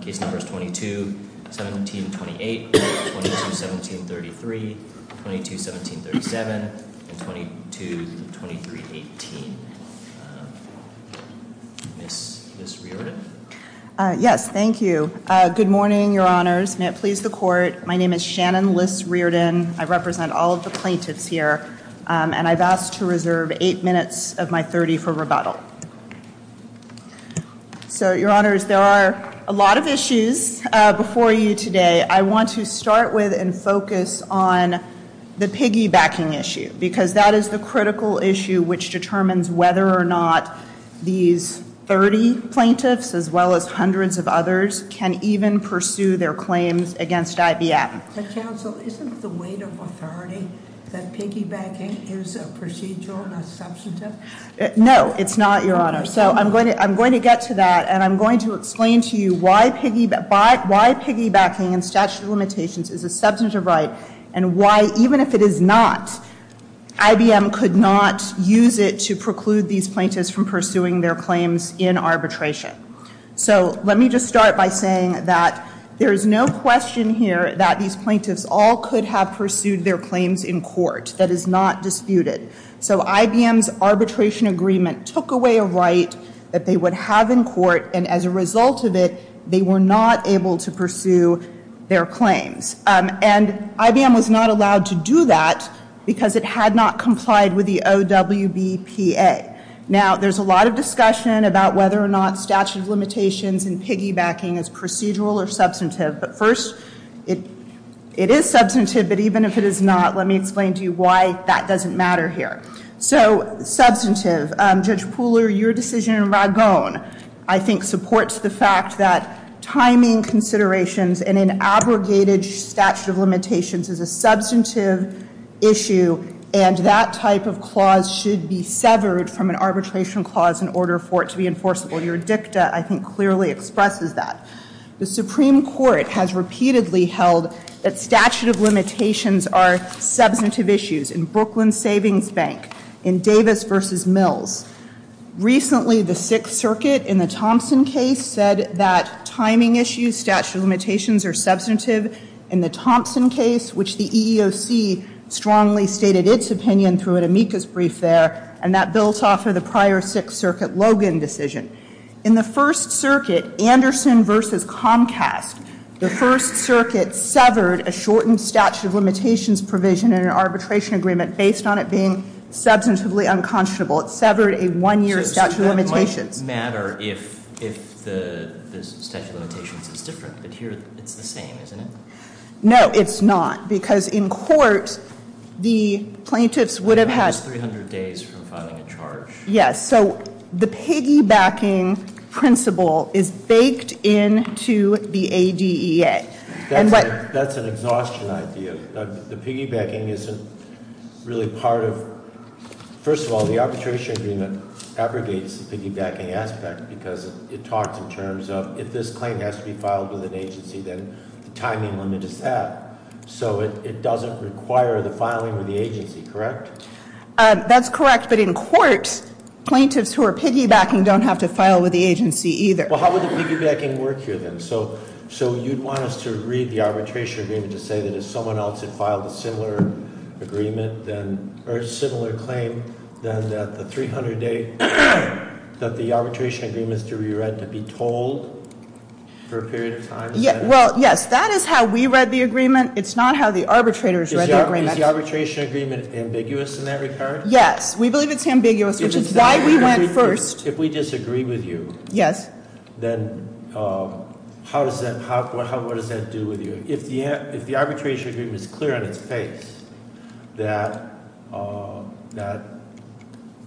Case number is 22-17-28, 22-17-33, 22-17-37, and 22-23-18. Ms. Riordan? Yes, thank you. Good morning, Your Honors. May it please the Court, my name is Shannon Liss Riordan. I represent all of the plaintiffs here, and I've asked to reserve 8 minutes of my 30 for rebuttal. So, Your Honors, there are a lot of issues before you today. I want to start with and focus on the piggybacking issue, because that is the critical issue which determines whether or not these 30 plaintiffs, as well as hundreds of others, can even pursue their claims against IBM. But, Counsel, isn't the weight of authority that piggybacking is a procedural, not substantive? No, it's not, Your Honor. So, I'm going to get to that, and I'm going to explain to you why piggybacking in statute of limitations is a substantive right, and why, even if it is not, IBM could not use it to preclude these plaintiffs from pursuing their claims in arbitration. So, let me just start by saying that there is no question here that these plaintiffs all could have pursued their claims in court. That is not disputed. So, IBM's arbitration agreement took away a right that they would have in court, and as a result of it, they were not able to pursue their claims. And IBM was not allowed to do that because it had not complied with the OWBPA. Now, there's a lot of discussion about whether or not statute of limitations and piggybacking is procedural or substantive, but first, it is substantive, but even if it is not, let me explain to you why that doesn't matter here. So, substantive. Judge Pooler, your decision in Ragon, I think, supports the fact that timing considerations and an abrogated statute of limitations is a substantive issue, and that type of clause should be severed from an arbitration clause in order for it to be enforceable. Your dicta, I think, clearly expresses that. The Supreme Court has repeatedly held that statute of limitations are substantive issues in Brooklyn Savings Bank, in Davis v. Mills. Recently, the Sixth Circuit in the Thompson case said that timing issues, statute of limitations, are substantive. In the Thompson case, which the EEOC strongly stated its opinion through an amicus brief there, and that built off of the prior Sixth Circuit Logan decision, in the First Circuit, Anderson v. Comcast, the First Circuit severed a shortened statute of limitations provision in an arbitration agreement based on it being substantively unconscionable. It severed a one-year statute of limitations. So it doesn't matter if the statute of limitations is different, but here it's the same, isn't it? No, it's not, because in court, the plaintiffs would have had less than 300 days from filing a charge. Yes, so the piggybacking principle is baked into the ADEA. That's an exhaustion idea. The piggybacking isn't really part of, first of all, the arbitration agreement abrogates the piggybacking aspect because it talks in terms of if this claim has to be filed with an agency, then the timing limit is set. So it doesn't require the filing with the agency, correct? That's correct, but in court, plaintiffs who are piggybacking don't have to file with the agency either. Well, how would the piggybacking work here, then? So you'd want us to read the arbitration agreement to say that if someone else had filed a similar claim, then that the 300-day, that the arbitration agreement is to be read to be told for a period of time? Well, yes, that is how we read the agreement. It's not how the arbitrators read the agreement. Is the arbitration agreement ambiguous in that regard? Yes, we believe it's ambiguous, which is why we went first. If we disagree with you- Yes. Then how does that, what does that do with you? If the arbitration agreement is clear on its face that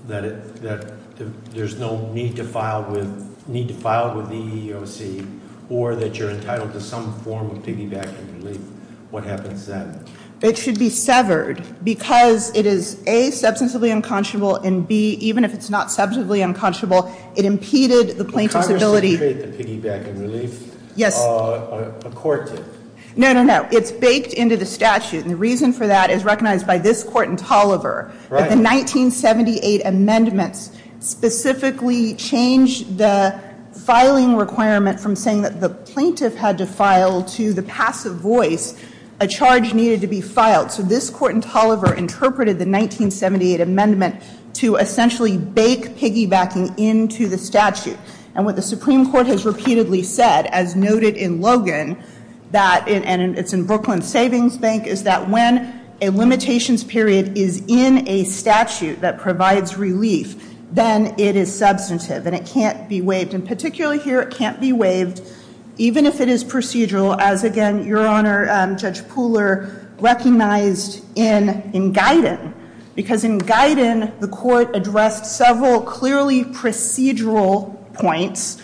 there's no need to file with the EEOC, or that you're entitled to some form of piggybacking relief, what happens then? It should be severed because it is, A, substantively unconscionable, and, B, even if it's not substantively unconscionable, it impeded the plaintiff's ability- Congress did create the piggybacking relief. Yes. A court did. No, no, no. It's baked into the statute, and the reason for that is recognized by this Court in Tolliver. Right. voice, a charge needed to be filed. So this Court in Tolliver interpreted the 1978 amendment to essentially bake piggybacking into the statute, and what the Supreme Court has repeatedly said, as noted in Logan, that, and it's in Brooklyn Savings Bank, is that when a limitations period is in a statute that provides relief, then it is substantive, and it can't be waived, and particularly here, it can't be waived, even if it is procedural, as, again, Your Honor, Judge Pooler recognized in Guyton, because in Guyton, the Court addressed several clearly procedural points,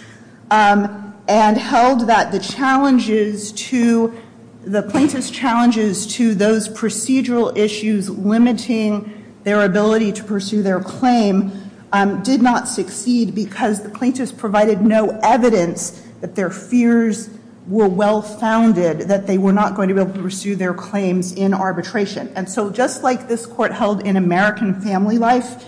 and held that the challenges to, the plaintiff's challenges to those procedural issues limiting their ability to pursue their claim did not succeed because the plaintiffs provided no evidence that their fears were well-founded, that they were not going to be able to pursue their claims in arbitration. And so just like this Court held in American Family Life,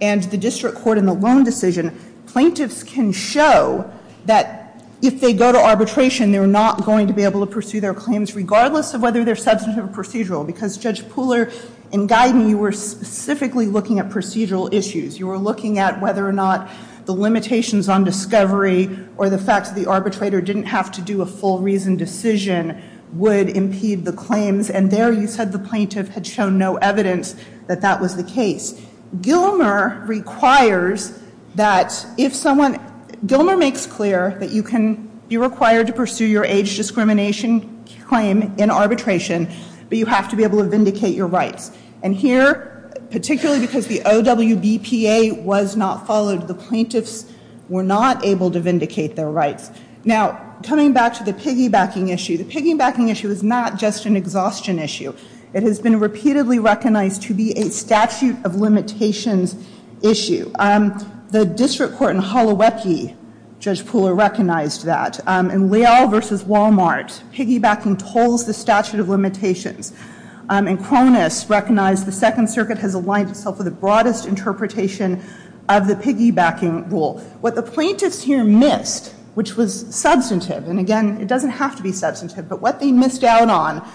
and the District Court in the Loan Decision, plaintiffs can show that if they go to arbitration, they're not going to be able to pursue their claims, regardless of whether they're substantive or procedural, because Judge Pooler, in Guyton, you were specifically looking at procedural issues. You were looking at whether or not the limitations on discovery, or the fact that the arbitrator didn't have to do a full reasoned decision would impede the claims, and there you said the plaintiff had shown no evidence that that was the case. Gilmer requires that if someone, Gilmer makes clear that you can, you're required to pursue your age discrimination claim in arbitration, but you have to be able to vindicate your rights. And here, particularly because the OWBPA was not followed, the plaintiffs were not able to vindicate their rights. Now, coming back to the piggybacking issue, the piggybacking issue is not just an exhaustion issue. It has been repeatedly recognized to be a statute of limitations issue. The District Court in Holowecki, Judge Pooler recognized that. In Leal v. Walmart, piggybacking tolls the statute of limitations. And Cronus recognized the Second Circuit has aligned itself with the broadest interpretation of the piggybacking rule. What the plaintiffs here missed, which was substantive, and again, it doesn't have to be substantive, but what they missed out on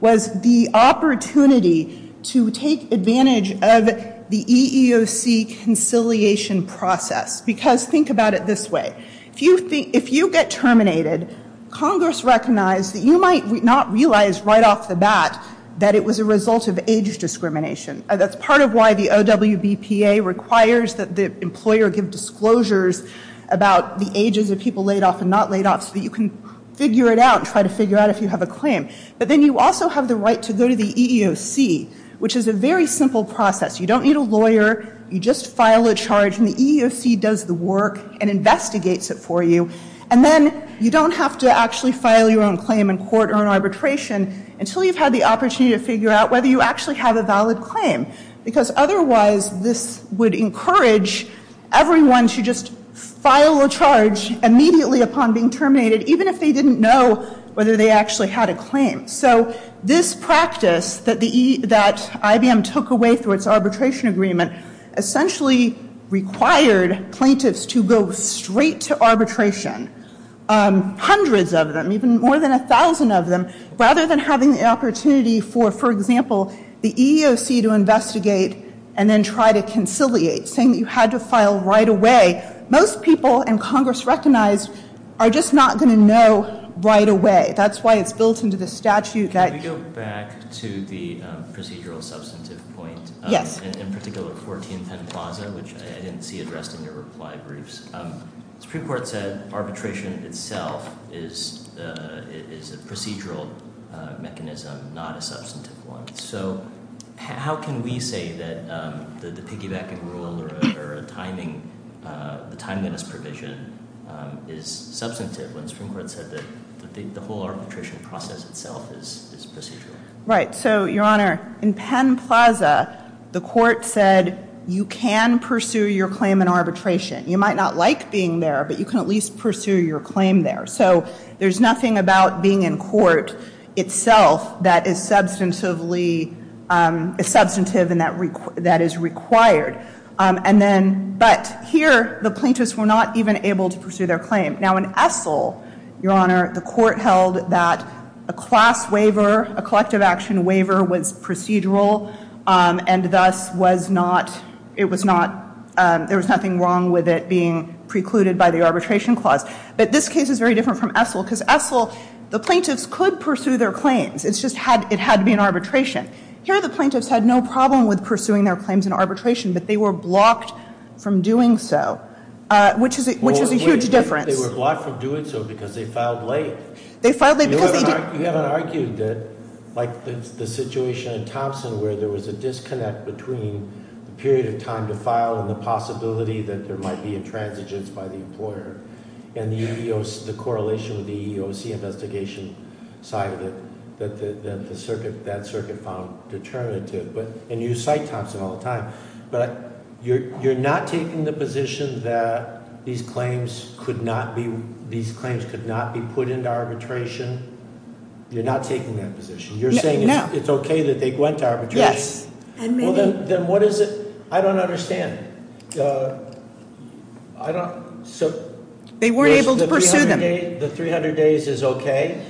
was the opportunity to take advantage of the EEOC conciliation process. Because think about it this way. If you get terminated, Congress recognized that you might not realize right off the bat that it was a result of age discrimination. That's part of why the OWBPA requires that the employer give disclosures about the ages of people laid off and not laid off, so that you can figure it out and try to figure out if you have a claim. But then you also have the right to go to the EEOC, which is a very simple process. You don't need a lawyer. You just file a charge, and the EEOC does the work and investigates it for you. And then you don't have to actually file your own claim in court or in arbitration until you've had the opportunity to figure out whether you actually have a valid claim. Because otherwise, this would encourage everyone to just file a charge immediately upon being terminated, even if they didn't know whether they actually had a claim. So this practice that IBM took away through its arbitration agreement essentially required plaintiffs to go straight to arbitration, hundreds of them, even more than 1,000 of them, rather than having the opportunity for, for example, the EEOC to investigate and then try to conciliate, saying that you had to file right away. Most people in Congress recognized are just not going to know right away. That's why it's built into the statute that- Can we go back to the procedural substantive point? Yes. In particular, 1410 Plaza, which I didn't see addressed in your reply briefs, the Supreme Court said arbitration itself is a procedural mechanism, not a substantive one. So how can we say that the piggybacking rule or the timeliness provision is substantive when the Supreme Court said that the whole arbitration process itself is procedural? Right. So, Your Honor, in Penn Plaza, the court said you can pursue your claim in arbitration. You might not like being there, but you can at least pursue your claim there. So there's nothing about being in court itself that is substantively, substantive and that is required. And then, but here, the plaintiffs were not even able to pursue their claim. Now in Essel, Your Honor, the court held that a class waiver, a collective action waiver was procedural and thus was not, it was not, there was nothing wrong with it being precluded by the arbitration clause. But this case is very different from Essel because Essel, the plaintiffs could pursue their claims. It's just had, it had to be an arbitration. Here the plaintiffs had no problem with pursuing their claims in arbitration, but they were blocked from doing so. Which is a huge difference. They were blocked from doing so because they filed late. They filed late because they didn't. You haven't argued that, like the situation in Thompson where there was a disconnect between the period of time to file and the possibility that there might be intransigence by the employer. And the correlation with the EEOC investigation side of it that the circuit, that circuit found determinative. And you cite Thompson all the time. But you're not taking the position that these claims could not be, these claims could not be put into arbitration. You're not taking that position. Yes. And many- Then what is it, I don't understand. I don't, so- They weren't able to pursue them. The 300 days is okay?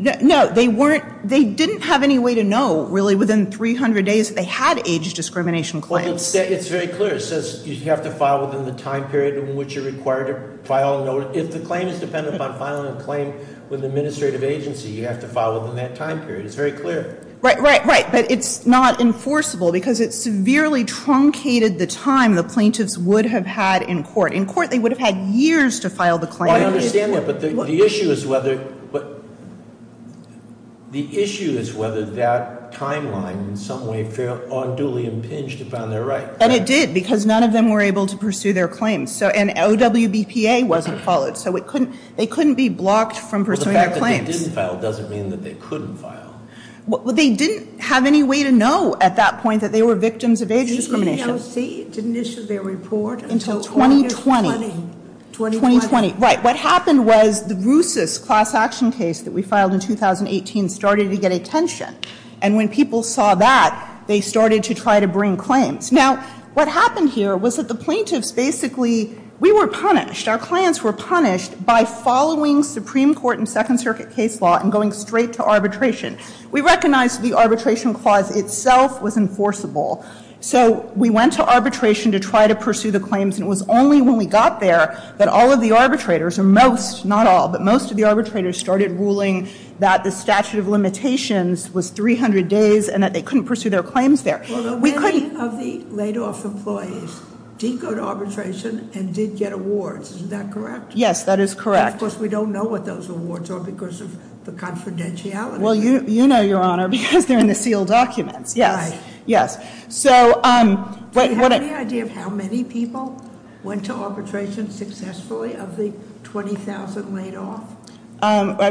No, they weren't, they didn't have any way to know, really, within 300 days that they had age discrimination claims. Well, it's very clear. It says you have to file within the time period in which you're required to file. If the claim is dependent on filing a claim with an administrative agency, you have to file within that time period. It's very clear. Right, right, right. But it's not enforceable because it severely truncated the time the plaintiffs would have had in court. In court, they would have had years to file the claim. Well, I understand that. But the issue is whether, the issue is whether that timeline in some way felt unduly impinged upon their right. And it did because none of them were able to pursue their claims. So, and OWBPA wasn't followed. So, it couldn't, they couldn't be blocked from pursuing their claims. Well, the fact that they didn't file doesn't mean that they couldn't file. Well, they didn't have any way to know at that point that they were victims of age discrimination. The EEOC didn't issue their report until August 20. Until 2020. 2020. Right. What happened was the Russus class action case that we filed in 2018 started to get attention. And when people saw that, they started to try to bring claims. Now, what happened here was that the plaintiffs basically, we were punished. Our clients were punished by following Supreme Court and Second Circuit case law and going straight to arbitration. We recognized the arbitration clause itself was enforceable. So, we went to arbitration to try to pursue the claims. And it was only when we got there that all of the arbitrators, or most, not all, but most of the arbitrators started ruling that the statute of limitations was 300 days and that they couldn't pursue their claims there. Well, many of the laid off employees decode arbitration and did get awards. Is that correct? Yes, that is correct. Of course, we don't know what those awards are because of the confidentiality. Well, you know, Your Honor, because they're in the sealed documents. Right. Yes. Do you have any idea of how many people went to arbitration successfully of the 20,000 laid off?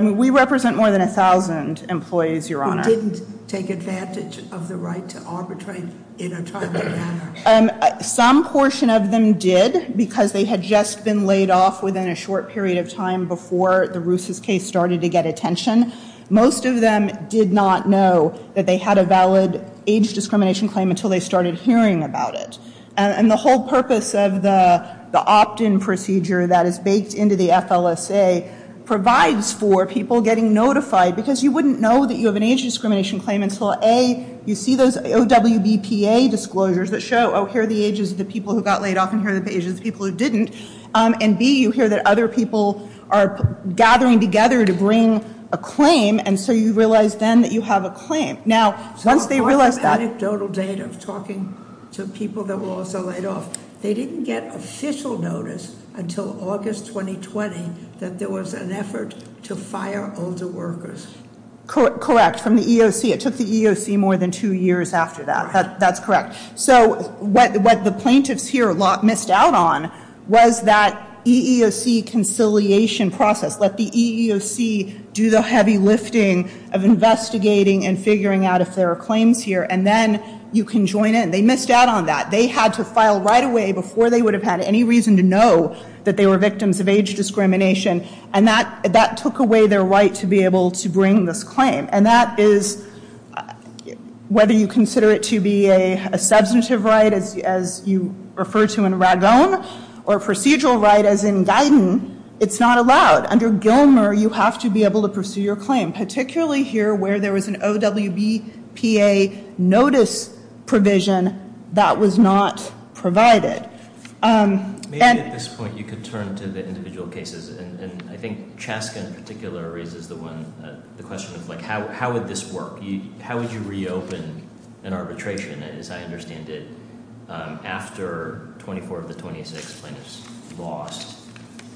We represent more than 1,000 employees, Your Honor. Some of them didn't take advantage of the right to arbitrate in a timely manner. Some portion of them did because they had just been laid off within a short period of time before the Ruse's case started to get attention. Most of them did not know that they had a valid age discrimination claim until they started hearing about it. And the whole purpose of the opt-in procedure that is baked into the FLSA provides for people getting notified because you wouldn't know that you have an age discrimination claim until, A, you see those OWBPA disclosures that show, oh, here are the ages of the people who got laid off and here are the ages of the people who didn't. And, B, you hear that other people are gathering together to bring a claim. And so you realize then that you have a claim. Now, once they realize that- On an anecdotal date of talking to people that were also laid off, they didn't get official notice until August 2020 that there was an effort to fire older workers. Correct, from the EEOC. It took the EEOC more than two years after that. That's correct. So what the plaintiffs here missed out on was that EEOC conciliation process, let the EEOC do the heavy lifting of investigating and figuring out if there are claims here, and then you can join in. They missed out on that. They had to file right away before they would have had any reason to know that they were victims of age discrimination. And that took away their right to be able to bring this claim. And that is, whether you consider it to be a substantive right, as you refer to in Ragone, or a procedural right, as in Guyton, it's not allowed. Under Gilmer, you have to be able to pursue your claim, particularly here where there was an OWBPA notice provision that was not provided. Maybe at this point you could turn to the individual cases, and I think Chaskin in particular raises the question of how would this work? How would you reopen an arbitration, as I understand it, after 24 of the 26 plaintiffs lost?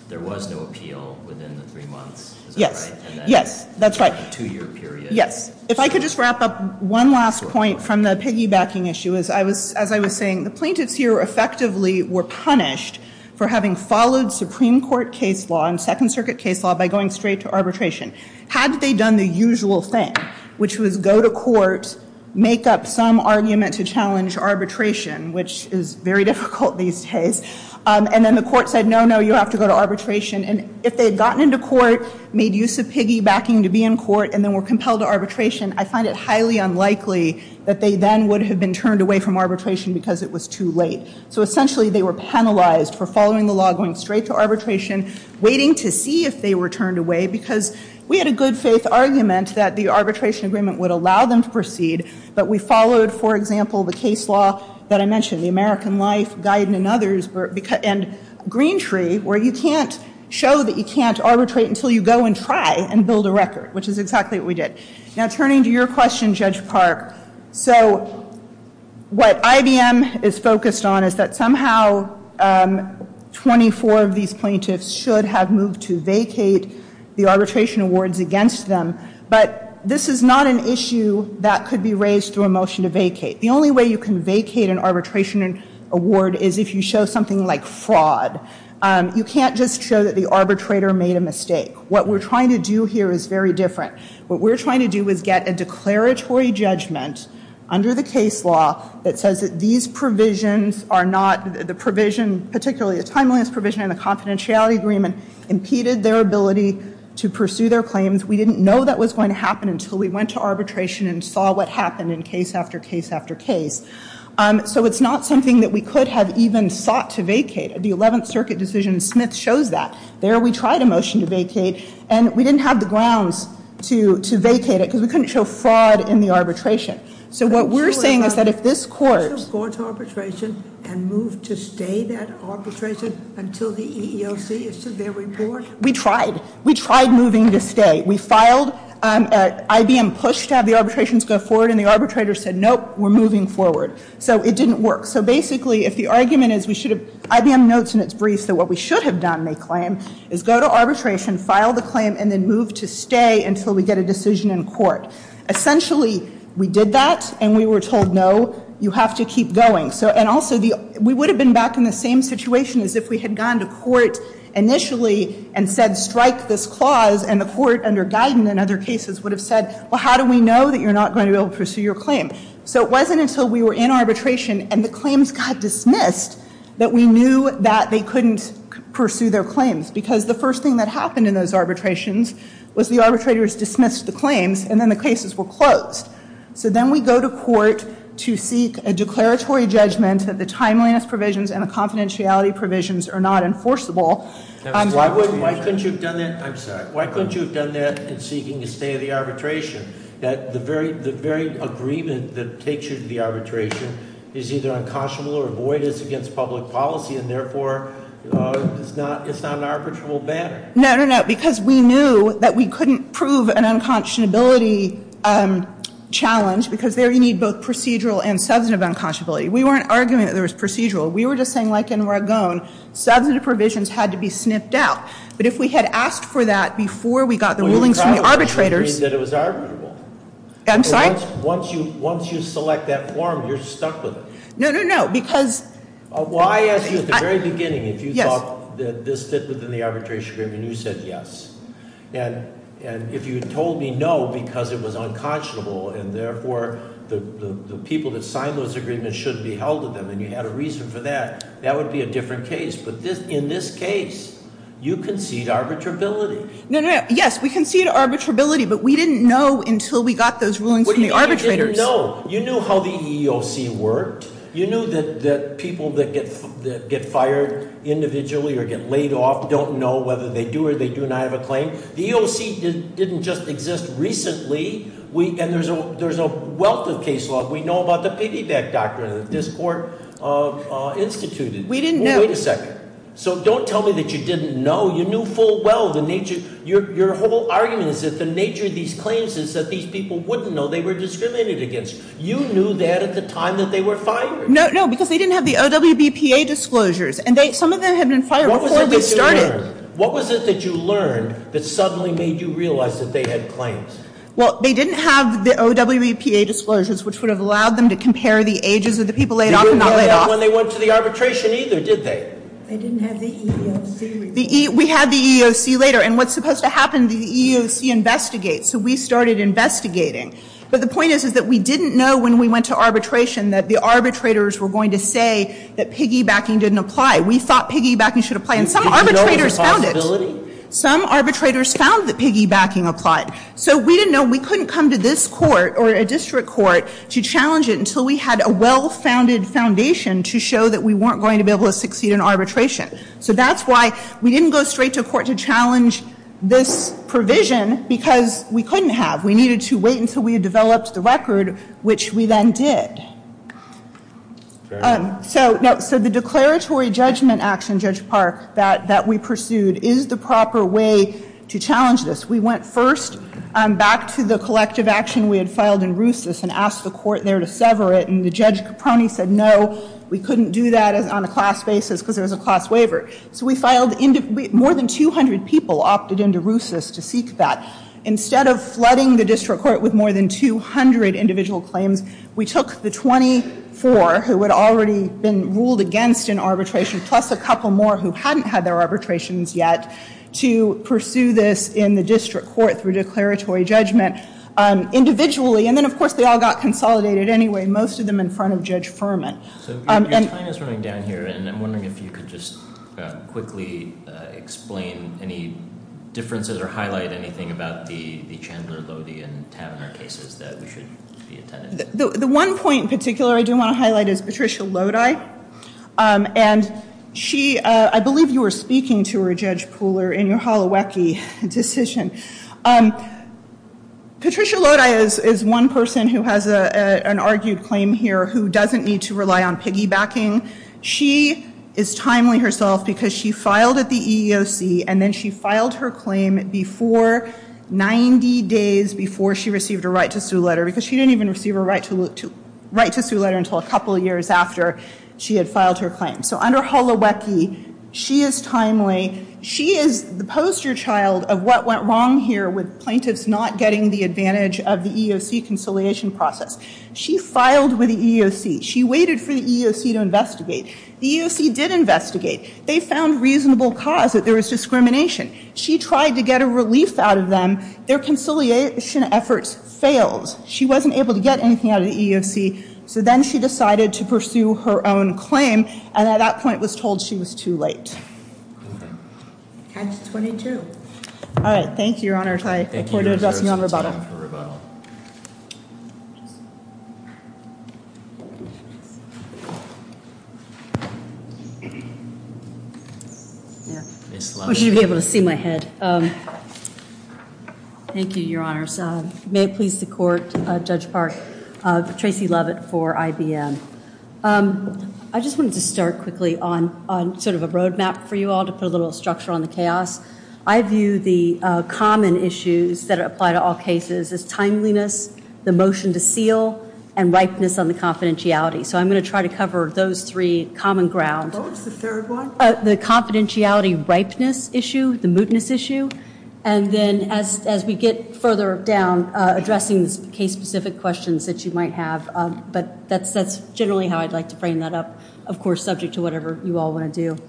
There was no appeal within the three months, is that right? Yes, that's right. Two-year period? Yes. If I could just wrap up one last point from the piggybacking issue. As I was saying, the plaintiffs here effectively were punished for having followed Supreme Court case law and Second Circuit case law by going straight to arbitration. Had they done the usual thing, which was go to court, make up some argument to challenge arbitration, which is very difficult these days, and then the court said, no, no, you have to go to arbitration, and if they had gotten into court, made use of piggybacking to be in court, and then were compelled to arbitration, I find it highly unlikely that they then would have been turned away from arbitration because it was too late. So essentially they were penalized for following the law, going straight to arbitration, waiting to see if they were turned away because we had a good faith argument that the arbitration agreement would allow them to proceed, but we followed, for example, the case law that I mentioned, the American Life Guidant and others, and Green Tree, where you can't show that you can't arbitrate until you go and try and build a record, which is exactly what we did. Now, turning to your question, Judge Park, so what IBM is focused on is that somehow 24 of these plaintiffs should have moved to vacate the arbitration awards against them, but this is not an issue that could be raised through a motion to vacate. The only way you can vacate an arbitration award is if you show something like fraud. You can't just show that the arbitrator made a mistake. What we're trying to do here is very different. What we're trying to do is get a declaratory judgment under the case law that says that these provisions are not, the provision, particularly the timeliness provision in the confidentiality agreement, impeded their ability to pursue their claims. We didn't know that was going to happen until we went to arbitration and saw what happened in case after case after case. So it's not something that we could have even sought to vacate. The 11th Circuit decision in Smith shows that. There we tried a motion to vacate, and we didn't have the grounds to vacate it because we couldn't show fraud in the arbitration. So what we're saying is that if this court- Did the courts arbitration and move to stay that arbitration until the EEOC issued their report? We tried. We tried moving to stay. We filed. IBM pushed to have the arbitrations go forward, and the arbitrator said, nope, we're moving forward. So it didn't work. So basically, if the argument is we should have- IBM notes in its briefs that what we should have done, they claim, is go to arbitration, file the claim, and then move to stay until we get a decision in court. Essentially, we did that, and we were told, no, you have to keep going. We would have been back in the same situation as if we had gone to court initially and said, strike this clause, and the court under Guyton and other cases would have said, well, how do we know that you're not going to be able to pursue your claim? So it wasn't until we were in arbitration and the claims got dismissed that we knew that they couldn't pursue their claims because the first thing that happened in those arbitrations was the arbitrators dismissed the claims, and then the cases were closed. So then we go to court to seek a declaratory judgment that the timeliness provisions and the confidentiality provisions are not enforceable. Why couldn't you have done that- I'm sorry. Why couldn't you have done that in seeking a stay of the arbitration, that the very agreement that takes you to the arbitration is either unconscionable or void, it's against public policy, and therefore it's not an arbitrable matter? No, no, no. Because we knew that we couldn't prove an unconscionability challenge because there you need both procedural and substantive unconscionability. We weren't arguing that there was procedural. We were just saying, like in Ragon, substantive provisions had to be snipped out. But if we had asked for that before we got the rulings from the arbitrators- You mean that it was arbitrable. I'm sorry? Once you select that form, you're stuck with it. No, no, no. Well, I asked you at the very beginning if you thought that this fit within the arbitration agreement, and you said yes. And if you had told me no because it was unconscionable and therefore the people that signed those agreements shouldn't be held to them and you had a reason for that, that would be a different case. But in this case, you concede arbitrability. No, no, no. Yes, we concede arbitrability, but we didn't know until we got those rulings from the arbitrators. You didn't know. You knew how the EEOC worked. You knew that people that get fired individually or get laid off don't know whether they do or they do not have a claim. The EEOC didn't just exist recently, and there's a wealth of case law. We know about the piggyback doctrine that this court instituted. We didn't know. Wait a second. So don't tell me that you didn't know. You knew full well the nature- Your whole argument is that the nature of these claims is that these people wouldn't know they were discriminated against. You knew that at the time that they were fired. No, no, because they didn't have the OWBPA disclosures, and some of them had been fired before we started. What was it that you learned that suddenly made you realize that they had claims? Well, they didn't have the OWBPA disclosures, which would have allowed them to compare the ages of the people laid off and not laid off. They didn't have that when they went to the arbitration either, did they? They didn't have the EEOC. We had the EEOC later, and what's supposed to happen, the EEOC investigates, so we started investigating. But the point is that we didn't know when we went to arbitration that the arbitrators were going to say that piggybacking didn't apply. We thought piggybacking should apply, and some arbitrators found it. Did you know it was a possibility? Some arbitrators found that piggybacking applied. So we didn't know. We couldn't come to this court or a district court to challenge it until we had a well-founded foundation to show that we weren't going to be able to succeed in arbitration. So that's why we didn't go straight to a court to challenge this provision because we couldn't have. We needed to wait until we had developed the record, which we then did. So the declaratory judgment action, Judge Park, that we pursued is the proper way to challenge this. We went first back to the collective action we had filed in RUCIS and asked the court there to sever it, and Judge Caproni said no, we couldn't do that on a class basis because there was a class waiver. So we filed more than 200 people opted into RUCIS to seek that. Instead of flooding the district court with more than 200 individual claims, we took the 24 who had already been ruled against in arbitration plus a couple more who hadn't had their arbitrations yet to pursue this in the district court through declaratory judgment individually. And then, of course, they all got consolidated anyway, most of them in front of Judge Furman. So your time is running down here, and I'm wondering if you could just quickly explain any differences or highlight anything about the Chandler, Lodi, and Taverner cases that should be attended. The one point in particular I do want to highlight is Patricia Lodi. And she, I believe you were speaking to her, Judge Pooler, in your Holowecki decision. Patricia Lodi is one person who has an argued claim here who doesn't need to rely on piggybacking. She is timely herself because she filed at the EEOC, and then she filed her claim 90 days before she received her right to sue letter because she didn't even receive her right to sue letter until a couple years after she had filed her claim. So under Holowecki, she is timely. She is the poster child of what went wrong here with plaintiffs not getting the advantage of the EEOC conciliation process. She filed with the EEOC. She waited for the EEOC to investigate. The EEOC did investigate. They found reasonable cause that there was discrimination. She tried to get a relief out of them. Their conciliation efforts failed. She wasn't able to get anything out of the EEOC, so then she decided to pursue her own claim, and at that point was told she was too late. Times 22. All right. Thank you, Your Honors. I look forward to addressing you on rebuttal. It's time for rebuttal. I wish you would be able to see my head. Thank you, Your Honors. May it please the Court, Judge Park, Tracy Lovett for IBM. I just wanted to start quickly on sort of a roadmap for you all to put a little structure on the chaos. I view the common issues that apply to all cases as timeliness, the motion to seal, and ripeness on the confidentiality. So I'm going to try to cover those three common grounds. What was the third one? The confidentiality ripeness issue, the mootness issue. And then as we get further down, addressing the case-specific questions that you might have, but that's generally how I'd like to frame that up, of course, subject to whatever you all want to do.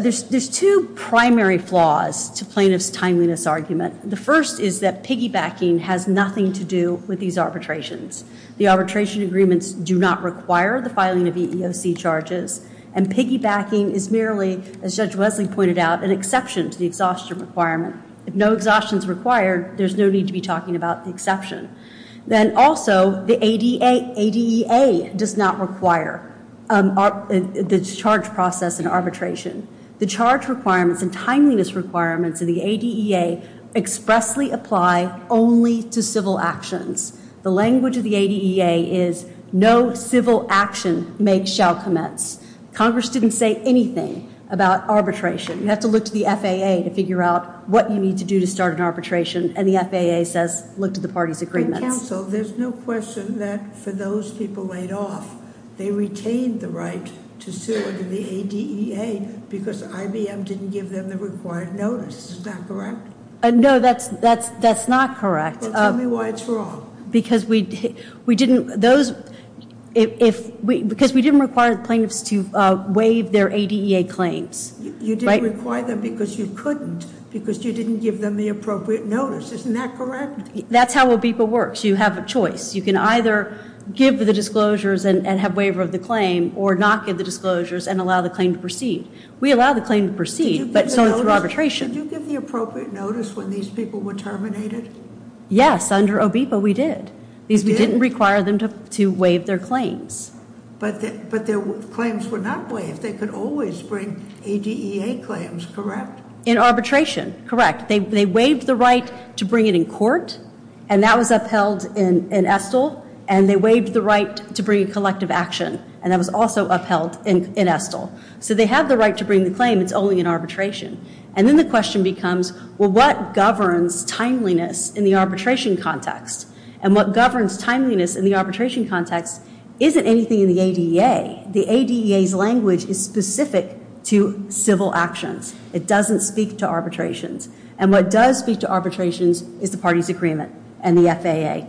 There's two primary flaws to plaintiff's timeliness argument. The first is that piggybacking has nothing to do with these arbitrations. The arbitration agreements do not require the filing of EEOC charges, and piggybacking is merely, as Judge Wesley pointed out, an exception to the exhaustion requirement. If no exhaustion is required, there's no need to be talking about the exception. Then also, the ADEA does not require the charge process in arbitration. The charge requirements and timeliness requirements of the ADEA expressly apply only to civil actions. The language of the ADEA is no civil action shall commence. Congress didn't say anything about arbitration. You have to look to the FAA to figure out what you need to do to start an arbitration, and the FAA says look to the party's agreements. Counsel, there's no question that for those people laid off, they retained the right to sue under the ADEA because IBM didn't give them the required notice. Is that correct? No, that's not correct. Well, tell me why it's wrong. Because we didn't require plaintiffs to waive their ADEA claims. You didn't require them because you couldn't, because you didn't give them the appropriate notice. Isn't that correct? That's how OBEPA works. You have a choice. You can either give the disclosures and have waiver of the claim or not give the disclosures and allow the claim to proceed. We allow the claim to proceed, but so does arbitration. Did you give the appropriate notice when these people were terminated? Yes, under OBEPA we did. We didn't require them to waive their claims. But their claims were not waived. They could always bring ADEA claims, correct? In arbitration, correct. They waived the right to bring it in court, and that was upheld in Estill, and they waived the right to bring a collective action, and that was also upheld in Estill. So they have the right to bring the claim. It's only in arbitration. And then the question becomes, well, what governs timeliness in the arbitration context? And what governs timeliness in the arbitration context isn't anything in the ADEA. The ADEA's language is specific to civil actions. It doesn't speak to arbitrations. And what does speak to arbitrations is the parties' agreement and the FAA.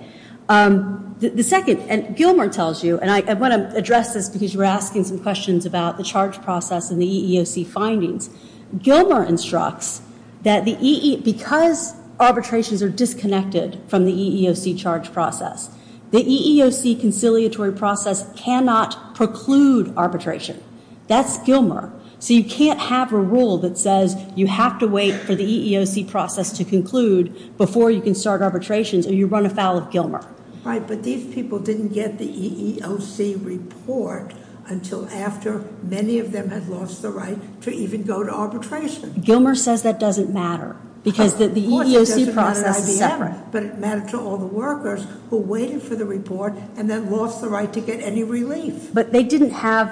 The second, and Gilmer tells you, and I want to address this because you were asking some questions about the charge process and the EEOC findings. Gilmer instructs that because arbitrations are disconnected from the EEOC charge process, the EEOC conciliatory process cannot preclude arbitration. That's Gilmer. So you can't have a rule that says you have to wait for the EEOC process to conclude before you can start arbitrations, or you run afoul of Gilmer. Right, but these people didn't get the EEOC report until after many of them had lost the right to even go to arbitration. Gilmer says that doesn't matter because the EEOC process is separate. But it mattered to all the workers who waited for the report and then lost the right to get any relief. But they didn't have,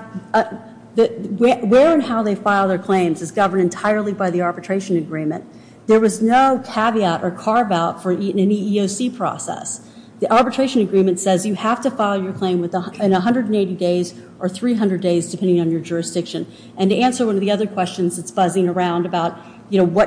where and how they filed their claims is governed entirely by the arbitration agreement. There was no caveat or carve-out for an EEOC process. The arbitration agreement says you have to file your claim in 180 days or 300 days depending on your jurisdiction. And to answer one of the other questions that's buzzing around about, you know,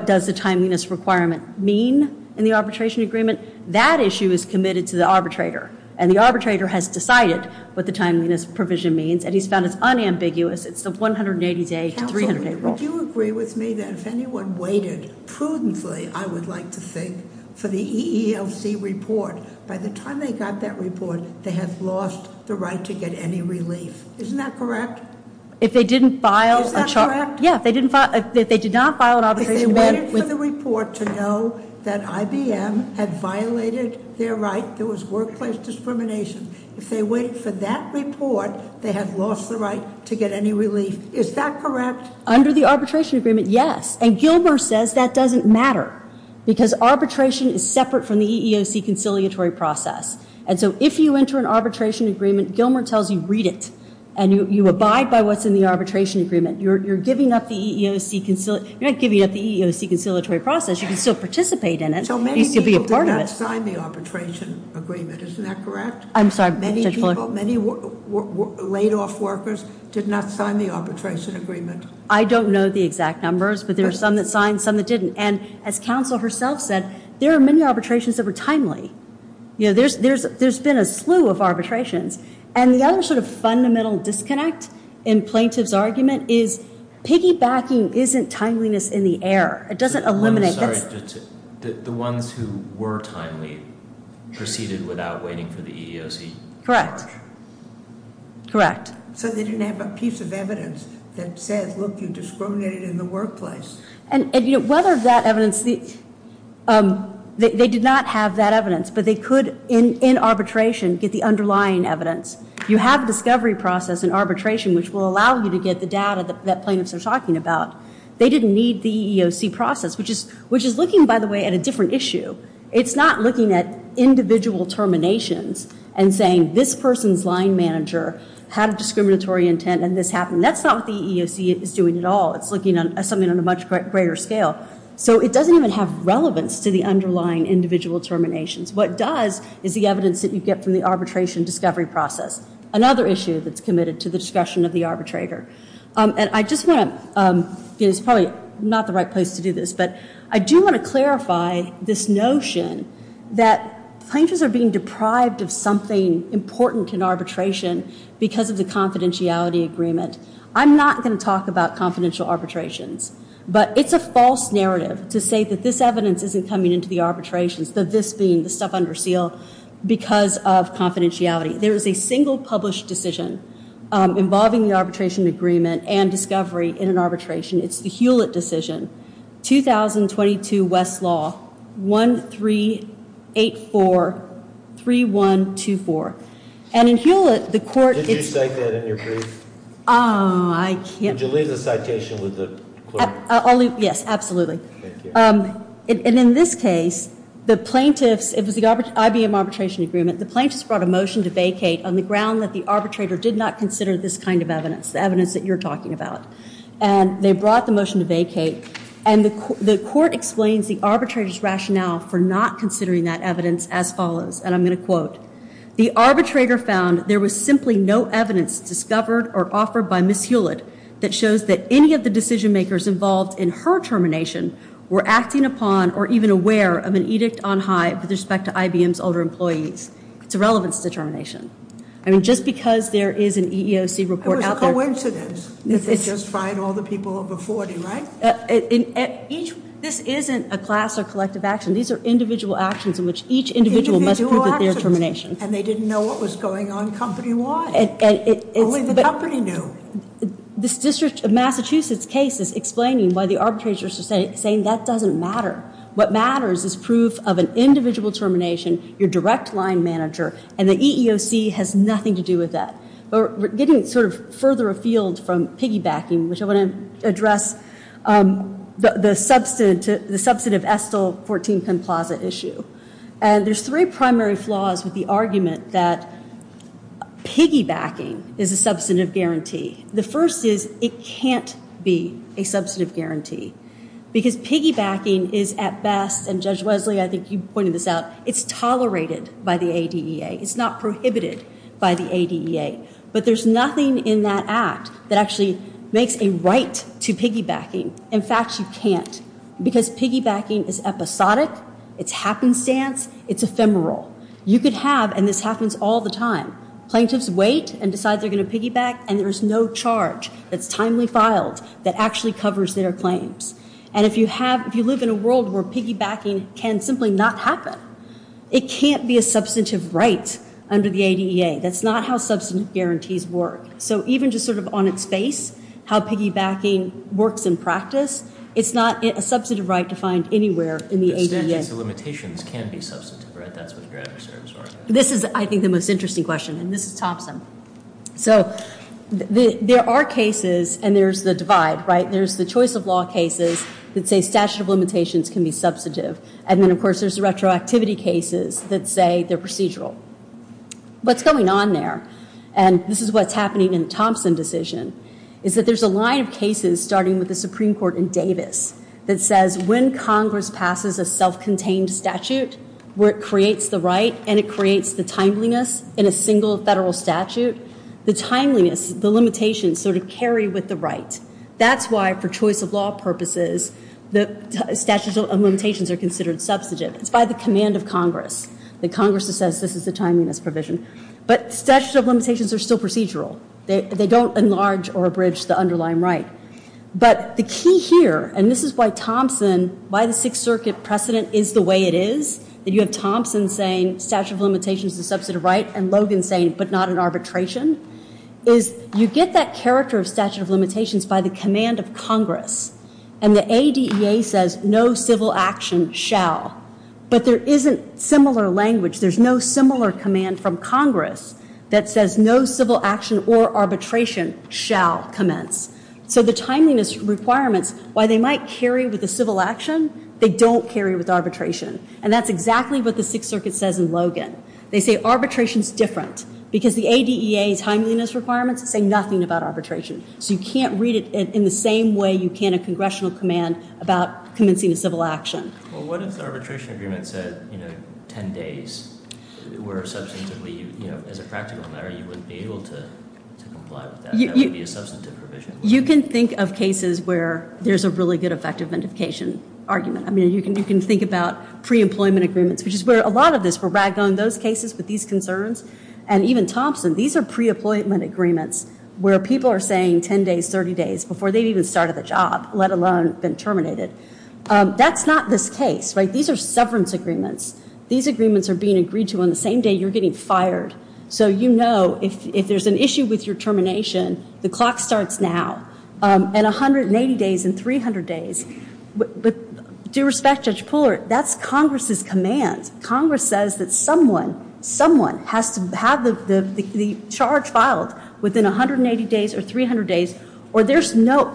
in the arbitration agreement, that issue is committed to the arbitrator. And the arbitrator has decided what the timeliness provision means, and he's found it's unambiguous. It's the 180-day to 300-day rule. Would you agree with me that if anyone waited prudently, I would like to think, for the EEOC report, by the time they got that report, they had lost the right to get any relief. Isn't that correct? If they didn't file a- Is that correct? Yeah, if they did not file an arbitration claim- If they waited for the report to know that IBM had violated their right, there was workplace discrimination, if they waited for that report, they had lost the right to get any relief. Is that correct? Under the arbitration agreement, yes. And Gilmer says that doesn't matter because arbitration is separate from the EEOC conciliatory process. And so if you enter an arbitration agreement, Gilmer tells you read it, and you abide by what's in the arbitration agreement. You're not giving up the EEOC conciliatory process. You can still participate in it. So many people did not sign the arbitration agreement. Isn't that correct? I'm sorry. Many people, many laid-off workers did not sign the arbitration agreement. I don't know the exact numbers, but there are some that signed, some that didn't. And as counsel herself said, there are many arbitrations that were timely. There's been a slew of arbitrations. And the other sort of fundamental disconnect in plaintiff's argument is piggybacking isn't timeliness in the air. It doesn't eliminate. I'm sorry. The ones who were timely proceeded without waiting for the EEOC? Correct. Correct. So they didn't have a piece of evidence that said, look, you discriminated in the workplace. Whether that evidence, they did not have that evidence, but they could, in arbitration, get the underlying evidence. You have a discovery process in arbitration, which will allow you to get the data that plaintiffs are talking about. They didn't need the EEOC process, which is looking, by the way, at a different issue. It's not looking at individual terminations and saying this person's line manager had a discriminatory intent and this happened. That's not what the EEOC is doing at all. It's looking at something on a much greater scale. So it doesn't even have relevance to the underlying individual terminations. What it does is the evidence that you get from the arbitration discovery process, another issue that's committed to the discussion of the arbitrator. And I just want to, it's probably not the right place to do this, but I do want to clarify this notion that plaintiffs are being deprived of something important in arbitration because of the confidentiality agreement. I'm not going to talk about confidential arbitrations, but it's a false narrative to say that this evidence isn't coming into the arbitrations, that this being the stuff under seal because of confidentiality. There is a single published decision involving the arbitration agreement and discovery in an arbitration. It's the Hewlett decision, 2022 West Law 1384-3124. And in Hewlett, the court- Did you cite that in your brief? Oh, I can't- Could you leave the citation with the clerk? Yes, absolutely. And in this case, the plaintiffs, it was the IBM arbitration agreement, the plaintiffs brought a motion to vacate on the ground that the arbitrator did not consider this kind of evidence, the evidence that you're talking about. And they brought the motion to vacate, and the court explains the arbitrator's rationale for not considering that evidence as follows, and I'm going to quote, the arbitrator found there was simply no evidence discovered or offered by Ms. Hewlett that shows that any of the decision makers involved in her termination were acting upon or even aware of an edict on high with respect to IBM's older employees. It's a relevance determination. I mean, just because there is an EEOC report out there- It was a coincidence that they just fired all the people over 40, right? This isn't a class or collective action. These are individual actions in which each individual must prove their termination. And they didn't know what was going on company-wide. Only the company knew. This district of Massachusetts case is explaining why the arbitrators are saying that doesn't matter. What matters is proof of an individual termination, your direct line manager, and the EEOC has nothing to do with that. We're getting sort of further afield from piggybacking, which I want to address the substantive Estill 14-10 Plaza issue. And there's three primary flaws with the argument that piggybacking is a substantive guarantee. The first is it can't be a substantive guarantee because piggybacking is at best, and Judge Wesley, I think you pointed this out, it's tolerated by the ADEA. It's not prohibited by the ADEA. But there's nothing in that act that actually makes a right to piggybacking. In fact, you can't because piggybacking is episodic. It's happenstance. It's ephemeral. You could have, and this happens all the time, plaintiffs wait and decide they're going to piggyback, and there's no charge that's timely filed that actually covers their claims. And if you live in a world where piggybacking can simply not happen, it can't be a substantive right under the ADEA. That's not how substantive guarantees work. So even just sort of on its face, how piggybacking works in practice, it's not a substantive right to find anywhere in the ADEA. Statutes of limitations can be substantive, right? That's what your answers are. This is, I think, the most interesting question, and this is Thompson. So there are cases, and there's the divide, right? There's the choice of law cases that say statute of limitations can be substantive. And then, of course, there's the retroactivity cases that say they're procedural. What's going on there, and this is what's happening in the Thompson decision, is that there's a line of cases, starting with the Supreme Court in Davis, that says when Congress passes a self-contained statute where it creates the right and it creates the timeliness in a single federal statute, the timeliness, the limitations sort of carry with the right. That's why, for choice of law purposes, the statute of limitations are considered substantive. It's by the command of Congress. The Congress says this is the timeliness provision. But statute of limitations are still procedural. They don't enlarge or abridge the underlying right. But the key here, and this is why Thompson, why the Sixth Circuit precedent is the way it is, that you have Thompson saying statute of limitations is a substantive right and Logan saying but not an arbitration, is you get that character of statute of limitations by the command of Congress. And the ADEA says no civil action shall. But there isn't similar language. There's no similar command from Congress that says no civil action or arbitration shall commence. So the timeliness requirements, while they might carry with the civil action, they don't carry with arbitration. And that's exactly what the Sixth Circuit says in Logan. They say arbitration's different because the ADEA's timeliness requirements say nothing about arbitration. So you can't read it in the same way you can a congressional command about commencing a civil action. Well, what if the arbitration agreement said, you know, 10 days, where substantively, you know, as a practical matter you wouldn't be able to comply with that? That would be a substantive provision. You can think of cases where there's a really good effective identification argument. I mean, you can think about pre-employment agreements, which is where a lot of this, where Ragone, those cases with these concerns, and even Thompson, these are pre-employment agreements where people are saying 10 days, 30 days, before they've even started the job, let alone been terminated. That's not this case, right? These are severance agreements. These agreements are being agreed to on the same day you're getting fired. So you know if there's an issue with your termination, the clock starts now. And 180 days and 300 days. With due respect, Judge Pooler, that's Congress's command. Congress says that someone, someone has to have the charge filed within 180 days or 300 days, or there's no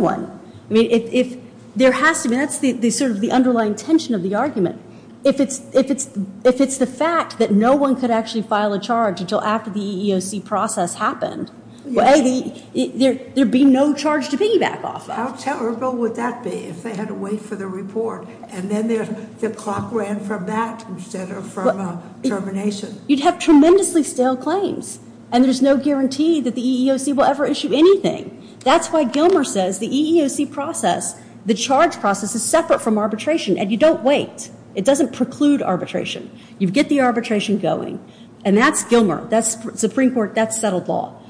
one. I mean, if there has to be, that's sort of the underlying tension of the argument. If it's the fact that no one could actually file a charge until after the EEOC process happened, there would be no charge to piggyback off of. How terrible would that be if they had to wait for the report, and then the clock ran from that instead of from termination? You'd have tremendously stale claims, and there's no guarantee that the EEOC will ever issue anything. That's why Gilmer says the EEOC process, the charge process, is separate from arbitration, and you don't wait. It doesn't preclude arbitration. You get the arbitration going. And that's Gilmer. That's Supreme Court. That's settled law.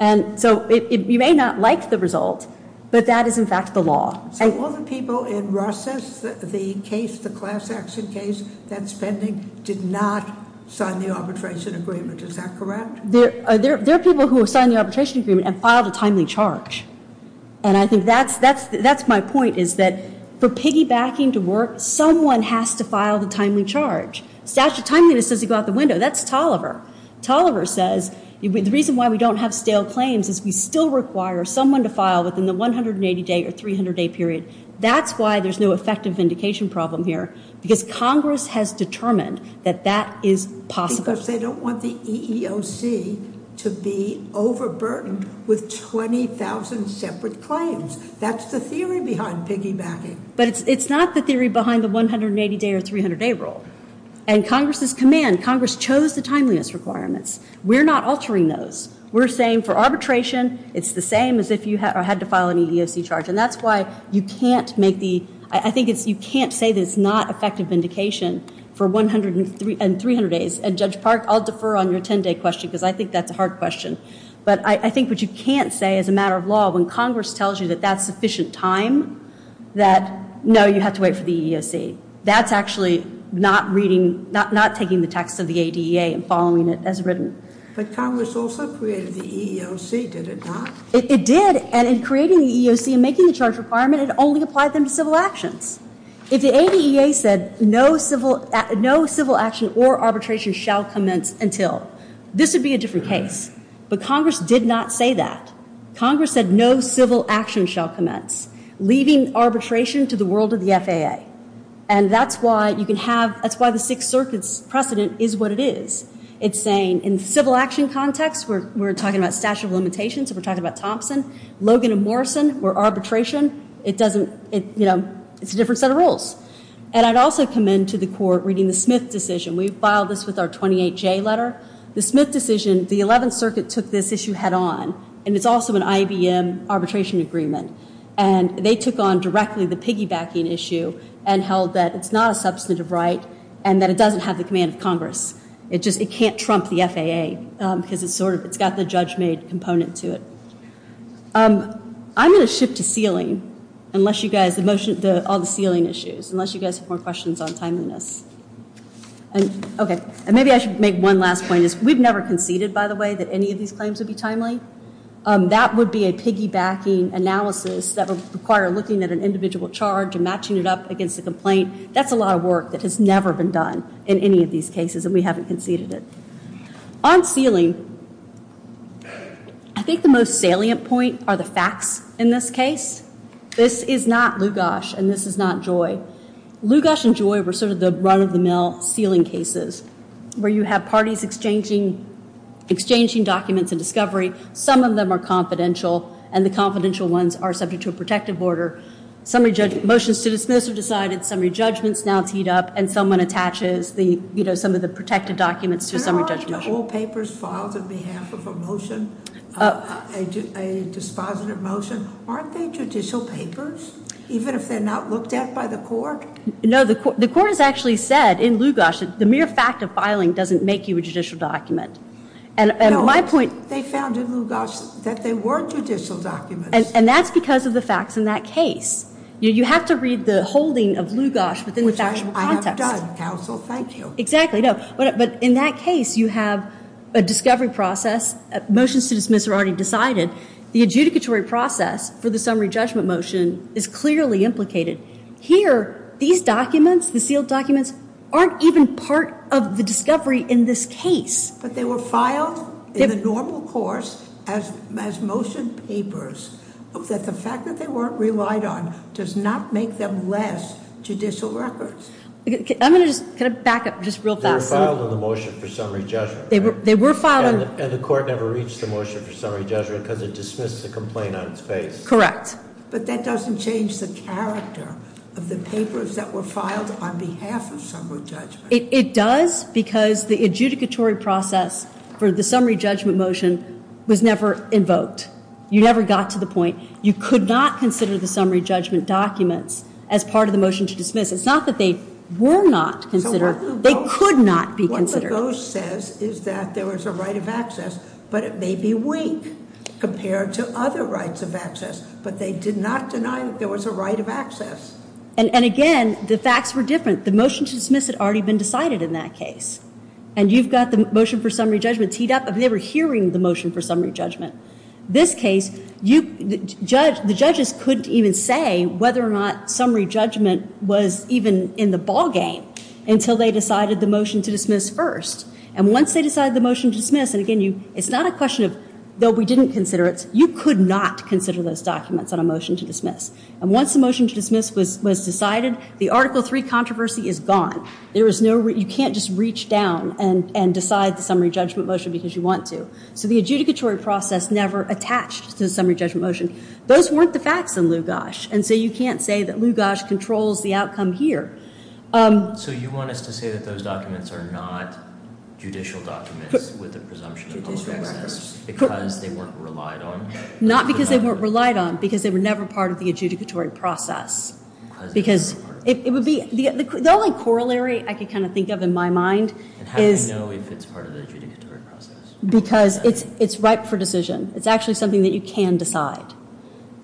And so you may not like the result, but that is in fact the law. So all the people in Ross's, the case, the class action case, that's pending, did not sign the arbitration agreement. Is that correct? There are people who have signed the arbitration agreement and filed a timely charge, and I think that's my point is that for piggybacking to work, someone has to file the timely charge. Statute of timeliness doesn't go out the window. That's Tolliver. Tolliver says the reason why we don't have stale claims is we still require someone to file within the 180-day or 300-day period. That's why there's no effective vindication problem here, because Congress has determined that that is possible. Because they don't want the EEOC to be overburdened with 20,000 separate claims. That's the theory behind piggybacking. But it's not the theory behind the 180-day or 300-day rule. And Congress's command, Congress chose the timeliness requirements. We're not altering those. We're saying for arbitration, it's the same as if you had to file an EEOC charge, and that's why you can't say that it's not effective vindication for 100 and 300 days. And Judge Park, I'll defer on your 10-day question, because I think that's a hard question. But I think what you can't say as a matter of law when Congress tells you that that's sufficient time, that no, you have to wait for the EEOC. That's actually not taking the text of the ADEA and following it as written. But Congress also created the EEOC, did it not? It did. And in creating the EEOC and making the charge requirement, it only applied them to civil actions. If the ADEA said no civil action or arbitration shall commence until, this would be a different case. But Congress did not say that. Congress said no civil action shall commence, leaving arbitration to the world of the FAA. And that's why you can have, that's why the Sixth Circuit's precedent is what it is. It's saying in civil action context, we're talking about statute of limitations, so we're talking about Thompson. Logan and Morrison were arbitration. It doesn't, you know, it's a different set of rules. And I'd also commend to the court reading the Smith decision. We filed this with our 28J letter. The Smith decision, the 11th Circuit took this issue head on, and it's also an IBM arbitration agreement. And they took on directly the piggybacking issue and held that it's not a substantive right and that it doesn't have the command of Congress. It just, it can't trump the FAA because it's sort of, it's got the judge-made component to it. I'm going to shift to sealing, unless you guys, the motion, all the sealing issues, unless you guys have more questions on timeliness. And, okay, and maybe I should make one last point. We've never conceded, by the way, that any of these claims would be timely. That would be a piggybacking analysis that would require looking at an individual charge and matching it up against a complaint. That's a lot of work that has never been done in any of these cases, and we haven't conceded it. On sealing, I think the most salient point are the facts in this case. This is not Lugash, and this is not Joy. Lugash and Joy were sort of the run-of-the-mill sealing cases where you have parties exchanging documents and discovery. Some of them are confidential, and the confidential ones are subject to a protective order. Motions to dismiss have decided, summary judgments now teed up, and someone attaches some of the protective documents to a summary judgment. There aren't whole papers filed on behalf of a motion, a dispositive motion. Aren't they judicial papers, even if they're not looked at by the court? No, the court has actually said in Lugash that the mere fact of filing doesn't make you a judicial document. No, they found in Lugash that they were judicial documents. And that's because of the facts in that case. You have to read the holding of Lugash within the factual context. Which I have done, counsel. Thank you. Exactly. But in that case, you have a discovery process. Motions to dismiss are already decided. The adjudicatory process for the summary judgment motion is clearly implicated. Here, these documents, the sealed documents, aren't even part of the discovery in this case. But they were filed in the normal course as motion papers, that the fact that they weren't relied on does not make them less judicial records. I'm going to just kind of back up just real fast. They were filed in the motion for summary judgment. They were filed in- And the court never reached the motion for summary judgment because it dismissed the complaint on its face. Correct. But that doesn't change the character of the papers that were filed on behalf of summary judgment. It does because the adjudicatory process for the summary judgment motion was never invoked. You never got to the point. You could not consider the summary judgment documents as part of the motion to dismiss. It's not that they were not considered. They could not be considered. What Lugash says is that there was a right of access, but it may be weak compared to other rights of access. But they did not deny that there was a right of access. And again, the facts were different. The motion to dismiss had already been decided in that case. And you've got the motion for summary judgment teed up. They were hearing the motion for summary judgment. This case, the judges couldn't even say whether or not summary judgment was even in the ballgame until they decided the motion to dismiss first. And once they decided the motion to dismiss, and again, it's not a question of, though we didn't consider it, And once the motion to dismiss was decided, the Article III controversy is gone. You can't just reach down and decide the summary judgment motion because you want to. So the adjudicatory process never attached to the summary judgment motion. Those weren't the facts in Lugash, and so you can't say that Lugash controls the outcome here. So you want us to say that those documents are not judicial documents with the presumption of public access because they weren't relied on? Because they were never part of the adjudicatory process. Because it would be the only corollary I could kind of think of in my mind is. How do you know if it's part of the adjudicatory process? Because it's ripe for decision. It's actually something that you can decide.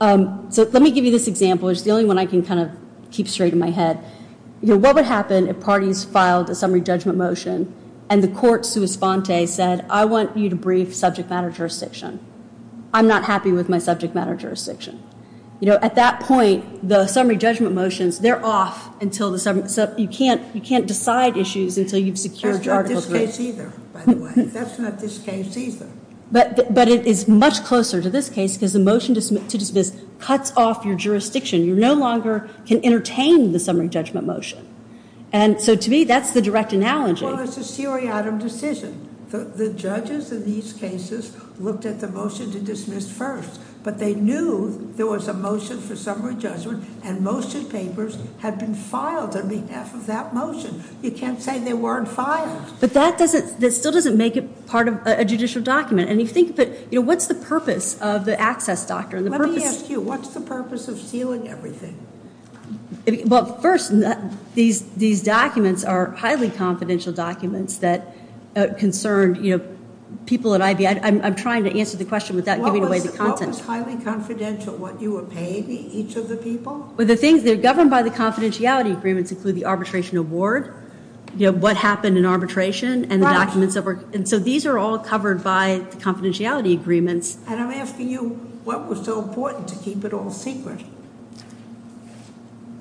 So let me give you this example. It's the only one I can kind of keep straight in my head. You know, what would happen if parties filed a summary judgment motion and the court sua sponte said, I want you to brief subject matter jurisdiction. I'm not happy with my subject matter jurisdiction. You know, at that point, the summary judgment motions, they're off until the summary. So you can't decide issues until you've secured the article. That's not this case either, by the way. That's not this case either. But it is much closer to this case because the motion to dismiss cuts off your jurisdiction. You no longer can entertain the summary judgment motion. And so to me, that's the direct analogy. Well, it's a seriatim decision. The judges in these cases looked at the motion to dismiss first. But they knew there was a motion for summary judgment, and motion papers had been filed on behalf of that motion. You can't say they weren't filed. But that still doesn't make it part of a judicial document. And you think of it, you know, what's the purpose of the access doctrine? Let me ask you, what's the purpose of sealing everything? Well, first, these documents are highly confidential documents that concern, you know, people at IBI. I'm trying to answer the question without giving away the content. What was highly confidential? What you were paying each of the people? Well, the things that are governed by the confidentiality agreements include the arbitration award. You know, what happened in arbitration and the documents that were. And so these are all covered by the confidentiality agreements. And I'm asking you, what was so important to keep it all secret?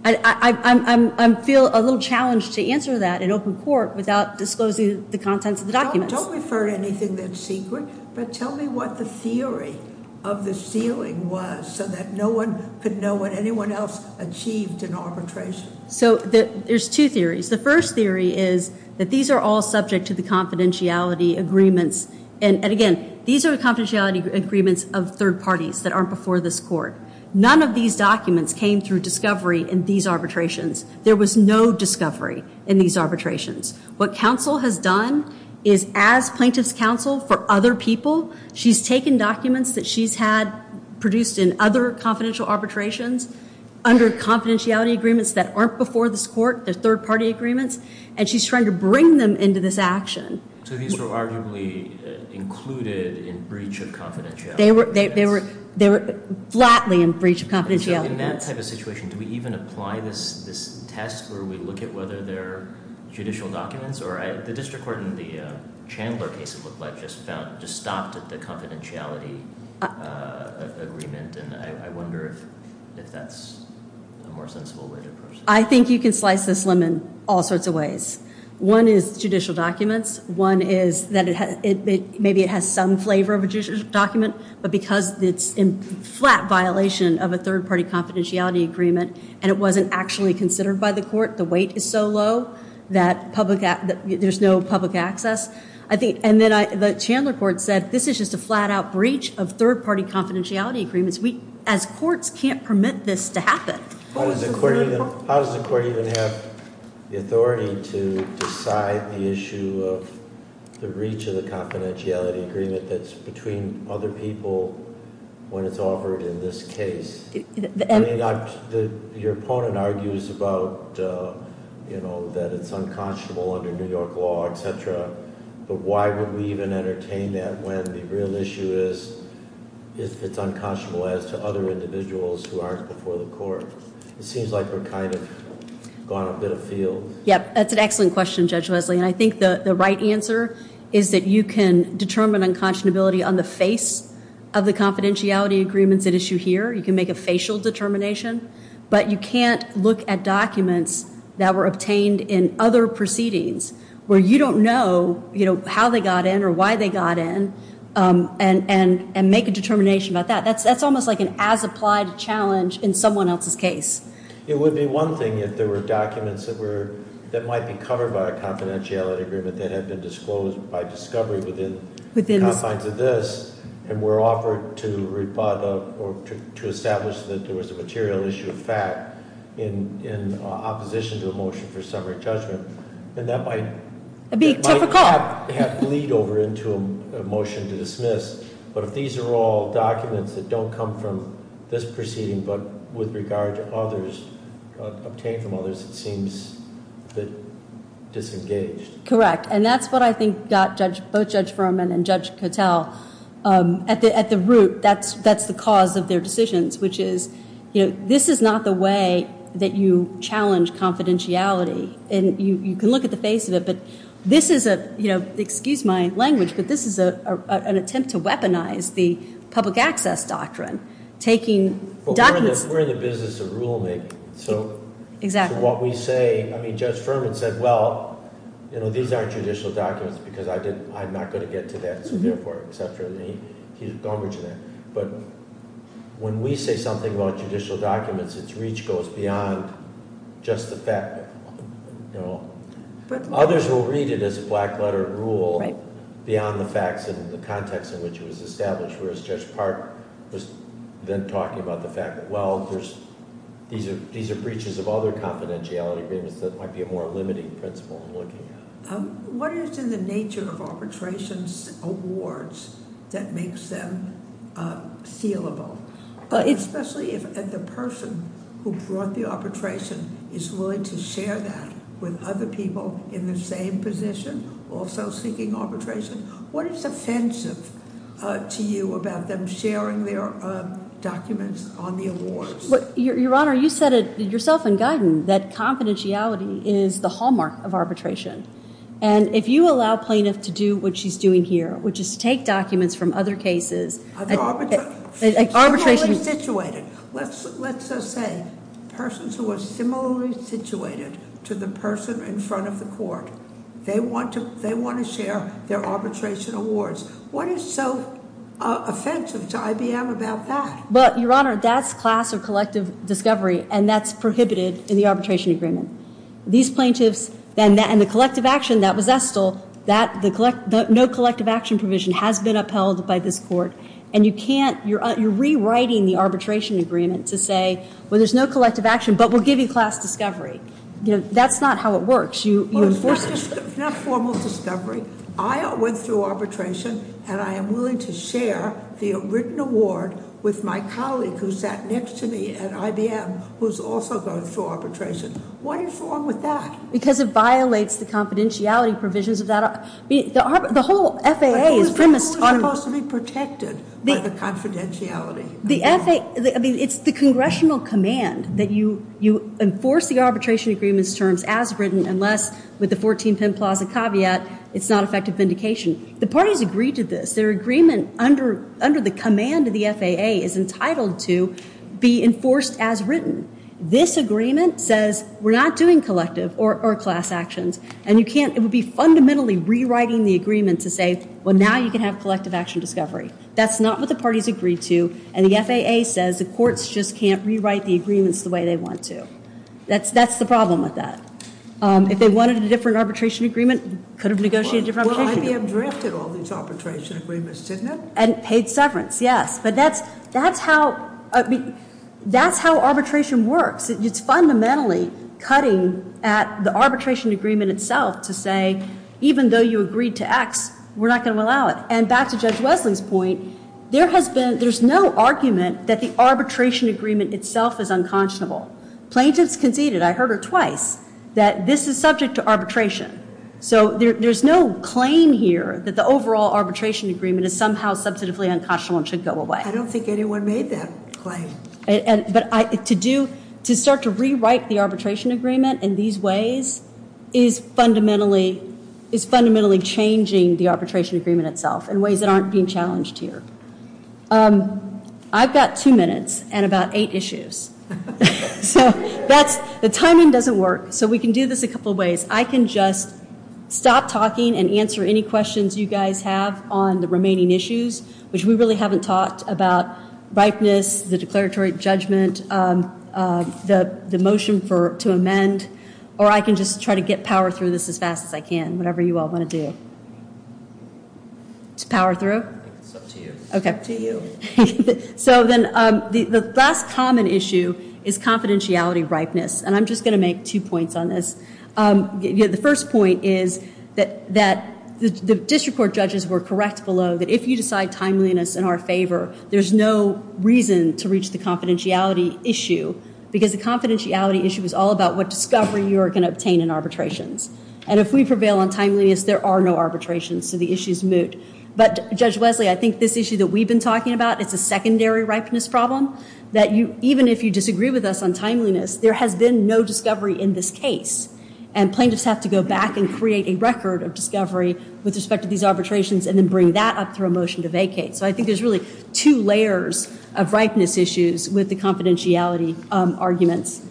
I feel a little challenged to answer that in open court without disclosing the contents of the documents. Don't refer to anything that's secret. But tell me what the theory of the sealing was so that no one could know what anyone else achieved in arbitration. So there's two theories. The first theory is that these are all subject to the confidentiality agreements. And again, these are confidentiality agreements of third parties that aren't before this court. None of these documents came through discovery in these arbitrations. There was no discovery in these arbitrations. What counsel has done is, as plaintiff's counsel for other people, she's taken documents that she's had produced in other confidential arbitrations under confidentiality agreements that aren't before this court, the third-party agreements, and she's trying to bring them into this action. So these were arguably included in breach of confidentiality agreements? They were flatly in breach of confidentiality agreements. In that type of situation, do we even apply this test where we look at whether they're judicial documents? Or the district court in the Chandler case, it looked like, just stopped at the confidentiality agreement. And I wonder if that's a more sensible way to approach this. One is judicial documents. One is that maybe it has some flavor of a judicial document, but because it's in flat violation of a third-party confidentiality agreement and it wasn't actually considered by the court, the weight is so low that there's no public access. And then the Chandler court said, this is just a flat-out breach of third-party confidentiality agreements. How does the court even have the authority to decide the issue of the reach of the confidentiality agreement that's between other people when it's offered in this case? I mean, your opponent argues about, you know, that it's unconscionable under New York law, etc. But why would we even entertain that when the real issue is if it's unconscionable as to other individuals who aren't before the court? It seems like we're kind of gone a bit afield. Yep, that's an excellent question, Judge Wesley. And I think the right answer is that you can determine unconscionability on the face of the confidentiality agreements at issue here. You can make a facial determination, but you can't look at documents that were obtained in other proceedings where you don't know how they got in or why they got in and make a determination about that. That's almost like an as-applied challenge in someone else's case. It would be one thing if there were documents that might be covered by a confidentiality agreement that had been disclosed by discovery within the confines of this and were offered to rebut or to establish that there was a material issue of fact in opposition to the motion for summary judgment. And that might- It'd be typical. Have bleed over into a motion to dismiss. But if these are all documents that don't come from this proceeding but with regard to others, obtained from others, it seems a bit disengaged. Correct. And that's what I think got both Judge Furman and Judge Cattell at the root. That's the cause of their decisions, which is this is not the way that you challenge confidentiality. And you can look at the face of it, but this is a- Excuse my language, but this is an attempt to weaponize the public access doctrine, taking documents- But we're in the business of rulemaking. Exactly. So what we say- I mean, Judge Furman said, well, these aren't judicial documents because I'm not going to get to that. He's a congregent there. But when we say something about judicial documents, its reach goes beyond just the fact. Others will read it as a black-letter rule beyond the facts and the context in which it was established, whereas Judge Park was then talking about the fact that, well, these are breaches of other confidentiality agreements that might be a more limiting principle I'm looking at. What is in the nature of arbitration awards that makes them sealable, especially if the person who brought the arbitration is willing to share that with other people in the same position also seeking arbitration? What is offensive to you about them sharing their documents on the awards? Your Honor, you said it yourself in Guyton that confidentiality is the hallmark of arbitration. And if you allow a plaintiff to do what she's doing here, which is take documents from other cases- Other arbit- Arbitration- Similarly situated. Let's say persons who are similarly situated to the person in front of the court. They want to share their arbitration awards. What is so offensive to IBM about that? But, Your Honor, that's class or collective discovery, and that's prohibited in the arbitration agreement. These plaintiffs, and the collective action that was Estill, no collective action provision has been upheld by this court. And you can't, you're rewriting the arbitration agreement to say, well, there's no collective action, but we'll give you class discovery. That's not how it works. You enforce- Well, it's not formal discovery. I went through arbitration, and I am willing to share the written award with my colleague who sat next to me at IBM, who's also going through arbitration. What is wrong with that? Because it violates the confidentiality provisions of that. The whole FAA is premised on- But who is supposed to be protected by the confidentiality? The FAA, I mean, it's the congressional command that you enforce the arbitration agreement's terms as written, unless, with the 14 Penn Plaza caveat, it's not effective vindication. The parties agreed to this. Their agreement under the command of the FAA is entitled to be enforced as written. This agreement says we're not doing collective or class actions, and you can't, it would be fundamentally rewriting the agreement to say, well, now you can have collective action discovery. That's not what the parties agreed to, and the FAA says the courts just can't rewrite the agreements the way they want to. That's the problem with that. If they wanted a different arbitration agreement, could have negotiated a different arbitration agreement. Well, IBM drafted all these arbitration agreements, didn't it? And paid severance, yes. But that's how arbitration works. It's fundamentally cutting at the arbitration agreement itself to say, even though you agreed to X, we're not going to allow it. And back to Judge Wesley's point, there has been, there's no argument that the arbitration agreement itself is unconscionable. Plaintiffs conceded, I heard her twice, that this is subject to arbitration. So there's no claim here that the overall arbitration agreement is somehow substantively unconscionable and should go away. I don't think anyone made that claim. But to do, to start to rewrite the arbitration agreement in these ways is fundamentally, is fundamentally changing the arbitration agreement itself in ways that aren't being challenged here. I've got two minutes and about eight issues. So that's, the timing doesn't work. So we can do this a couple of ways. I can just stop talking and answer any questions you guys have on the remaining issues, which we really haven't talked about, ripeness, the declaratory judgment, the motion to amend, or I can just try to get power through this as fast as I can, whatever you all want to do. To power through? It's up to you. Okay. Up to you. So then the last common issue is confidentiality ripeness. And I'm just going to make two points on this. The first point is that the district court judges were correct below that if you decide timeliness in our favor, there's no reason to reach the confidentiality issue, because the confidentiality issue is all about what discovery you are going to obtain in arbitrations. And if we prevail on timeliness, there are no arbitrations, so the issue is moot. But, Judge Wesley, I think this issue that we've been talking about, it's a secondary ripeness problem, that even if you disagree with us on timeliness, there has been no discovery in this case, and plaintiffs have to go back and create a record of discovery with respect to these arbitrations and then bring that up through a motion to vacate. So I think there's really two layers of ripeness issues with the confidentiality arguments.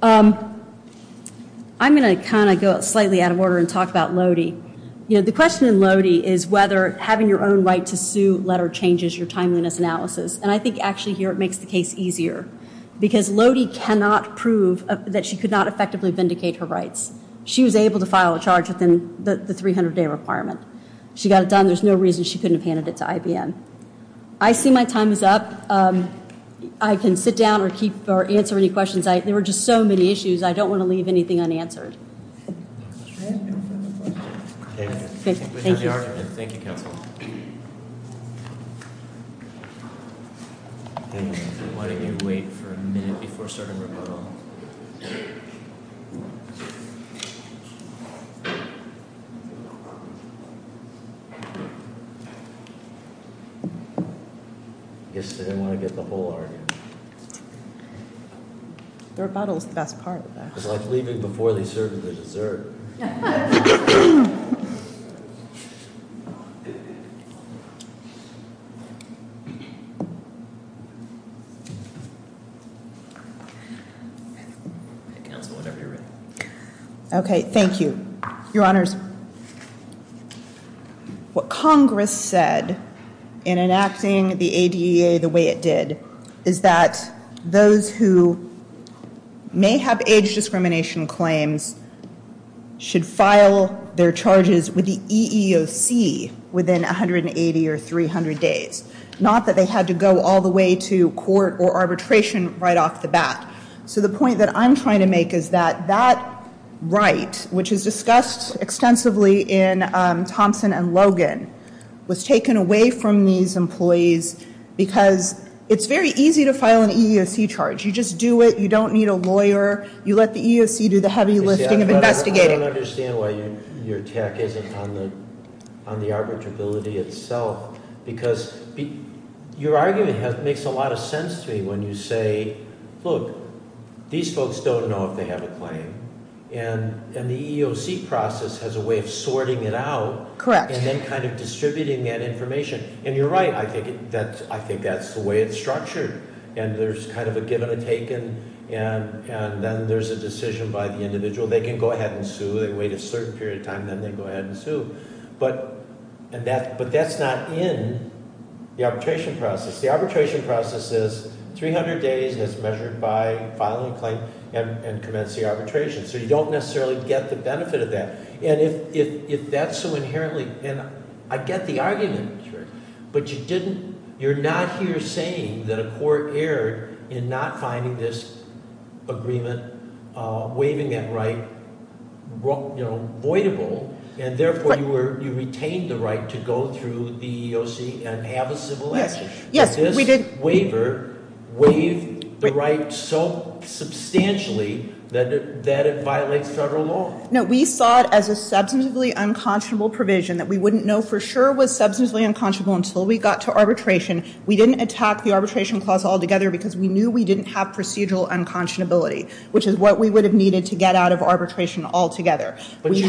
I'm going to kind of go slightly out of order and talk about Lody. You know, the question in Lody is whether having your own right to sue letter changes your timeliness analysis. And I think actually here it makes the case easier, because Lody cannot prove that she could not effectively vindicate her rights. She was able to file a charge within the 300-day requirement. She got it done. There's no reason she couldn't have handed it to IBM. I see my time is up. I can sit down or answer any questions. There were just so many issues. I don't want to leave anything unanswered. Thank you, counsel. Why don't you wait for a minute before starting rebuttal? I guess they didn't want to get the whole argument. The rebuttal is the best part. It's like leaving before they serve you the dessert. Okay. Thank you. Your honors, what Congress said in enacting the ADA the way it did is that those who may have age discrimination claims should file their charges with the EEOC within 180 or 300 days, not that they had to go all the way to court or arbitration right off the bat. So the point that I'm trying to make is that that right, which is discussed extensively in Thompson and Logan, was taken away from these employees because it's very easy to file an EEOC charge. You don't need a lawyer. You let the EEOC do the heavy lifting of investigating. I don't understand why your attack isn't on the arbitrability itself. Because your argument makes a lot of sense to me when you say, look, these folks don't know if they have a claim. And the EEOC process has a way of sorting it out. Correct. And then kind of distributing that information. And you're right. I think that's the way it's structured. And there's kind of a given and taken. And then there's a decision by the individual. They can go ahead and sue. They wait a certain period of time. Then they go ahead and sue. But that's not in the arbitration process. The arbitration process is 300 days is measured by filing a claim and commence the arbitration. So you don't necessarily get the benefit of that. And if that's so inherently – and I get the argument. Sure. But you're not here saying that a court erred in not finding this agreement, waiving that right, voidable. And, therefore, you retained the right to go through the EEOC and have a civil action. Yes. This waiver waived the right so substantially that it violates federal law. No, we saw it as a substantively unconscionable provision that we wouldn't know for sure was substantively unconscionable until we got to arbitration. We didn't attack the arbitration clause altogether because we knew we didn't have procedural unconscionability, which is what we would have needed to get out of arbitration altogether. But you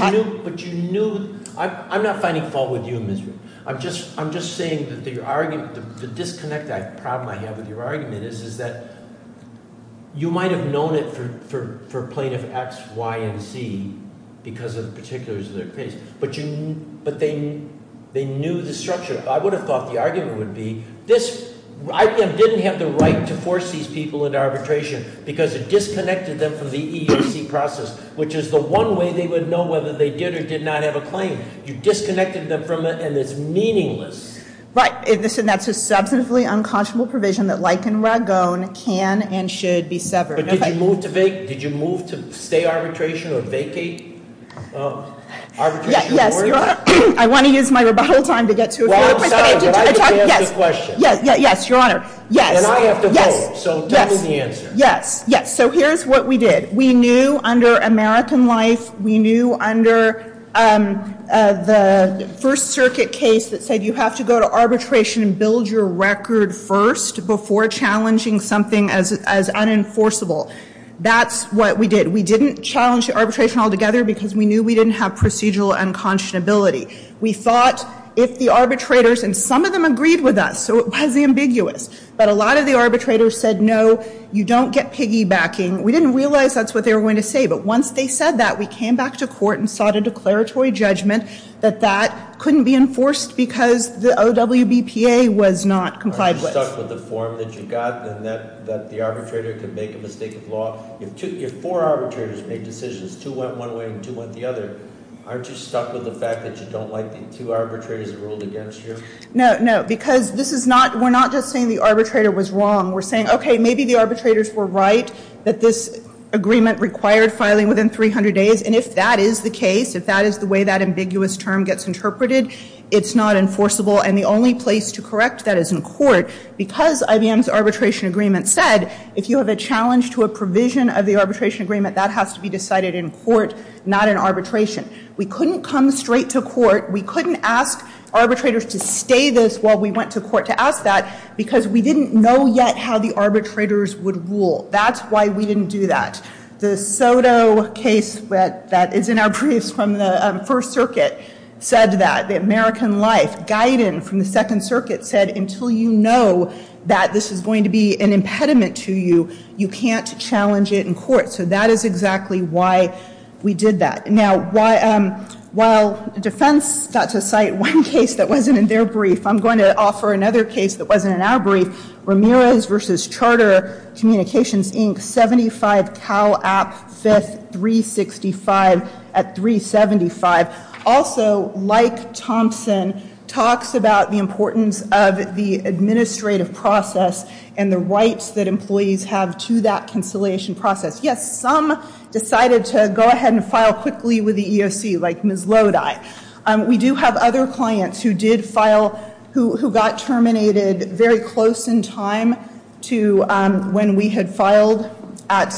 knew – I'm not finding fault with you, Ms. Ritter. I'm just saying that the disconnect problem I have with your argument is that you might have known it for Plaintiff X, Y, and Z because of the particulars of their case. But they knew the structure. I would have thought the argument would be, IBM didn't have the right to force these people into arbitration because it disconnected them from the EEOC process, which is the one way they would know whether they did or did not have a claim. You disconnected them from it, and it's meaningless. Right. And that's a substantively unconscionable provision that, like in Ragone, can and should be severed. But did you move to stay arbitration or vacate arbitration? Yes, Your Honor. I want to use my rebuttal time to get to it. Well, I'm sorry, but I have to answer the question. Yes, Your Honor, yes. And I have to vote, so tell me the answer. Yes, yes. So here's what we did. We knew under American Life, we knew under the First Circuit case that said you have to go to arbitration and build your record first before challenging something as unenforceable. That's what we did. We didn't challenge the arbitration altogether because we knew we didn't have procedural unconscionability. We thought if the arbitrators, and some of them agreed with us, so it was ambiguous. But a lot of the arbitrators said, no, you don't get piggybacking. We didn't realize that's what they were going to say. But once they said that, we came back to court and sought a declaratory judgment that that couldn't be enforced because the OWBPA was not complied with. Are you stuck with the form that you got and that the arbitrator could make a mistake of law? If four arbitrators make decisions, two went one way and two went the other, aren't you stuck with the fact that you don't like the two arbitrators that ruled against you? No, no, because we're not just saying the arbitrator was wrong. We're saying, okay, maybe the arbitrators were right that this agreement required filing within 300 days. And if that is the case, if that is the way that ambiguous term gets interpreted, it's not enforceable. And the only place to correct that is in court because IBM's arbitration agreement said if you have a challenge to a provision of the arbitration agreement, that has to be decided in court, not in arbitration. We couldn't come straight to court. We couldn't ask arbitrators to stay this while we went to court to ask that because we didn't know yet how the arbitrators would rule. That's why we didn't do that. The Soto case that is in our briefs from the First Circuit said that. The American Life Guidant from the Second Circuit said that until you know that this is going to be an impediment to you, you can't challenge it in court. So that is exactly why we did that. Now, while defense got to cite one case that wasn't in their brief, I'm going to offer another case that wasn't in our brief. Ramirez v. Charter Communications, Inc., 75 Cal App, 5th, 365 at 375. Also, like Thompson, talks about the importance of the administrative process and the rights that employees have to that conciliation process. Yes, some decided to go ahead and file quickly with the EEOC, like Ms. Lodi. We do have other clients who did file, who got terminated very close in time to when we had filed at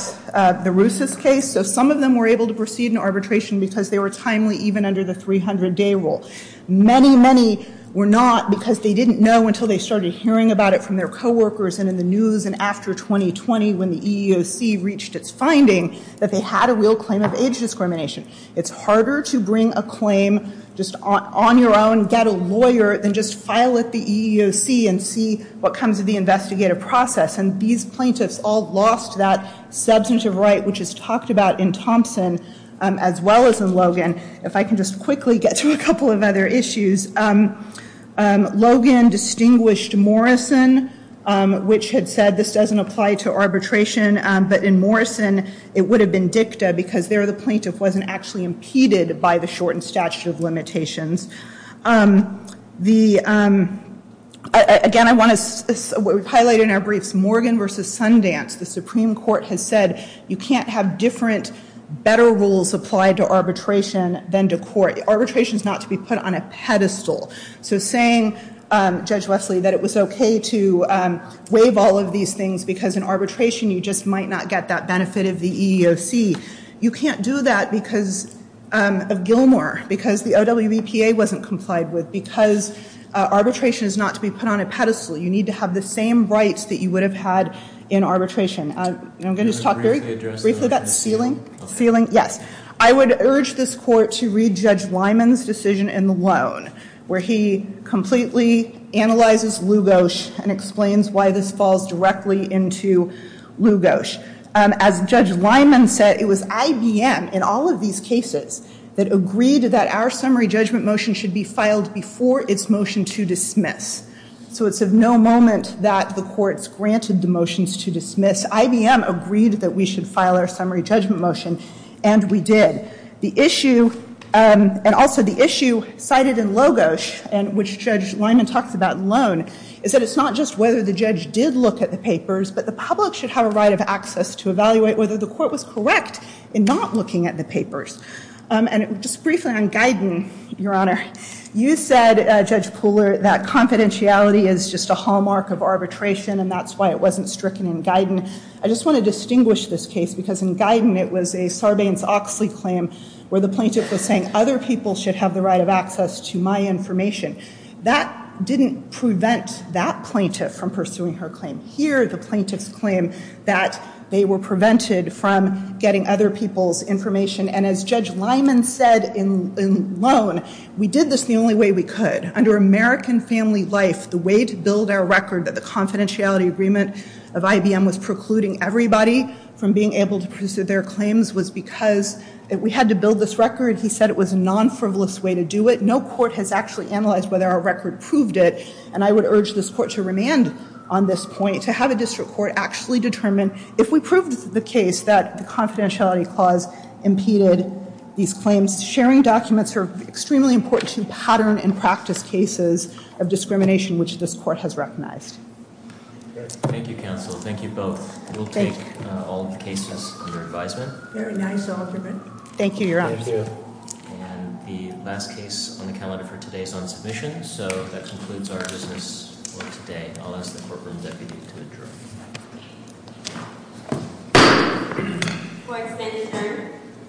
the Rusis case. So some of them were able to proceed in arbitration because they were timely even under the 300-day rule. Many, many were not because they didn't know until they started hearing about it from their coworkers and in the news and after 2020 when the EEOC reached its finding that they had a real claim of age discrimination. It's harder to bring a claim just on your own, get a lawyer, than just file at the EEOC and see what comes of the investigative process. And these plaintiffs all lost that substantive right, which is talked about in Thompson, as well as in Logan. If I can just quickly get to a couple of other issues. Logan distinguished Morrison, which had said this doesn't apply to arbitration, but in Morrison it would have been dicta because there the plaintiff wasn't actually impeded by the shortened statute of limitations. Again, I want to highlight in our briefs Morgan v. Sundance. The Supreme Court has said you can't have different, better rules applied to arbitration than to court. Arbitration is not to be put on a pedestal. So saying, Judge Wesley, that it was okay to waive all of these things because in arbitration you just might not get that benefit of the EEOC, you can't do that because of Gilmore, because the OWEPA wasn't complied with, because arbitration is not to be put on a pedestal. You need to have the same rights that you would have had in arbitration. I'm going to just talk very briefly about ceiling. Yes. I would urge this court to read Judge Lyman's decision in the loan, where he completely analyzes Lugos and explains why this falls directly into Lugos. As Judge Lyman said, it was IBM in all of these cases that agreed that our summary judgment motion should be filed before its motion to dismiss. So it's of no moment that the courts granted the motions to dismiss. IBM agreed that we should file our summary judgment motion, and we did. The issue, and also the issue cited in Lugos, which Judge Lyman talks about in loan, is that it's not just whether the judge did look at the papers, but the public should have a right of access to evaluate whether the court was correct in not looking at the papers. Just briefly on Guyton, Your Honor. You said, Judge Pooler, that confidentiality is just a hallmark of arbitration, and that's why it wasn't stricken in Guyton. I just want to distinguish this case, because in Guyton it was a Sarbanes-Oxley claim where the plaintiff was saying other people should have the right of access to my information. That didn't prevent that plaintiff from pursuing her claim. Here, the plaintiff's claim that they were prevented from getting other people's information, and as Judge Lyman said in loan, we did this the only way we could. Under American Family Life, the way to build our record, that the confidentiality agreement of IBM was precluding everybody from being able to pursue their claims was because we had to build this record. He said it was a non-frivolous way to do it. No court has actually analyzed whether our record proved it, and I would urge this court to remand on this point, to have a district court actually determine if we proved the case that the confidentiality clause impeded these claims. Sharing documents are extremely important to pattern and practice cases of discrimination, which this court has recognized. Thank you, counsel. Thank you both. We'll take all the cases under advisement. Very nice argument. Thank you, Your Honor. Thank you. And the last case on the calendar for today is on submission, so that concludes our business for today. I'll ask the courtroom deputy to adjourn. Court is adjourned.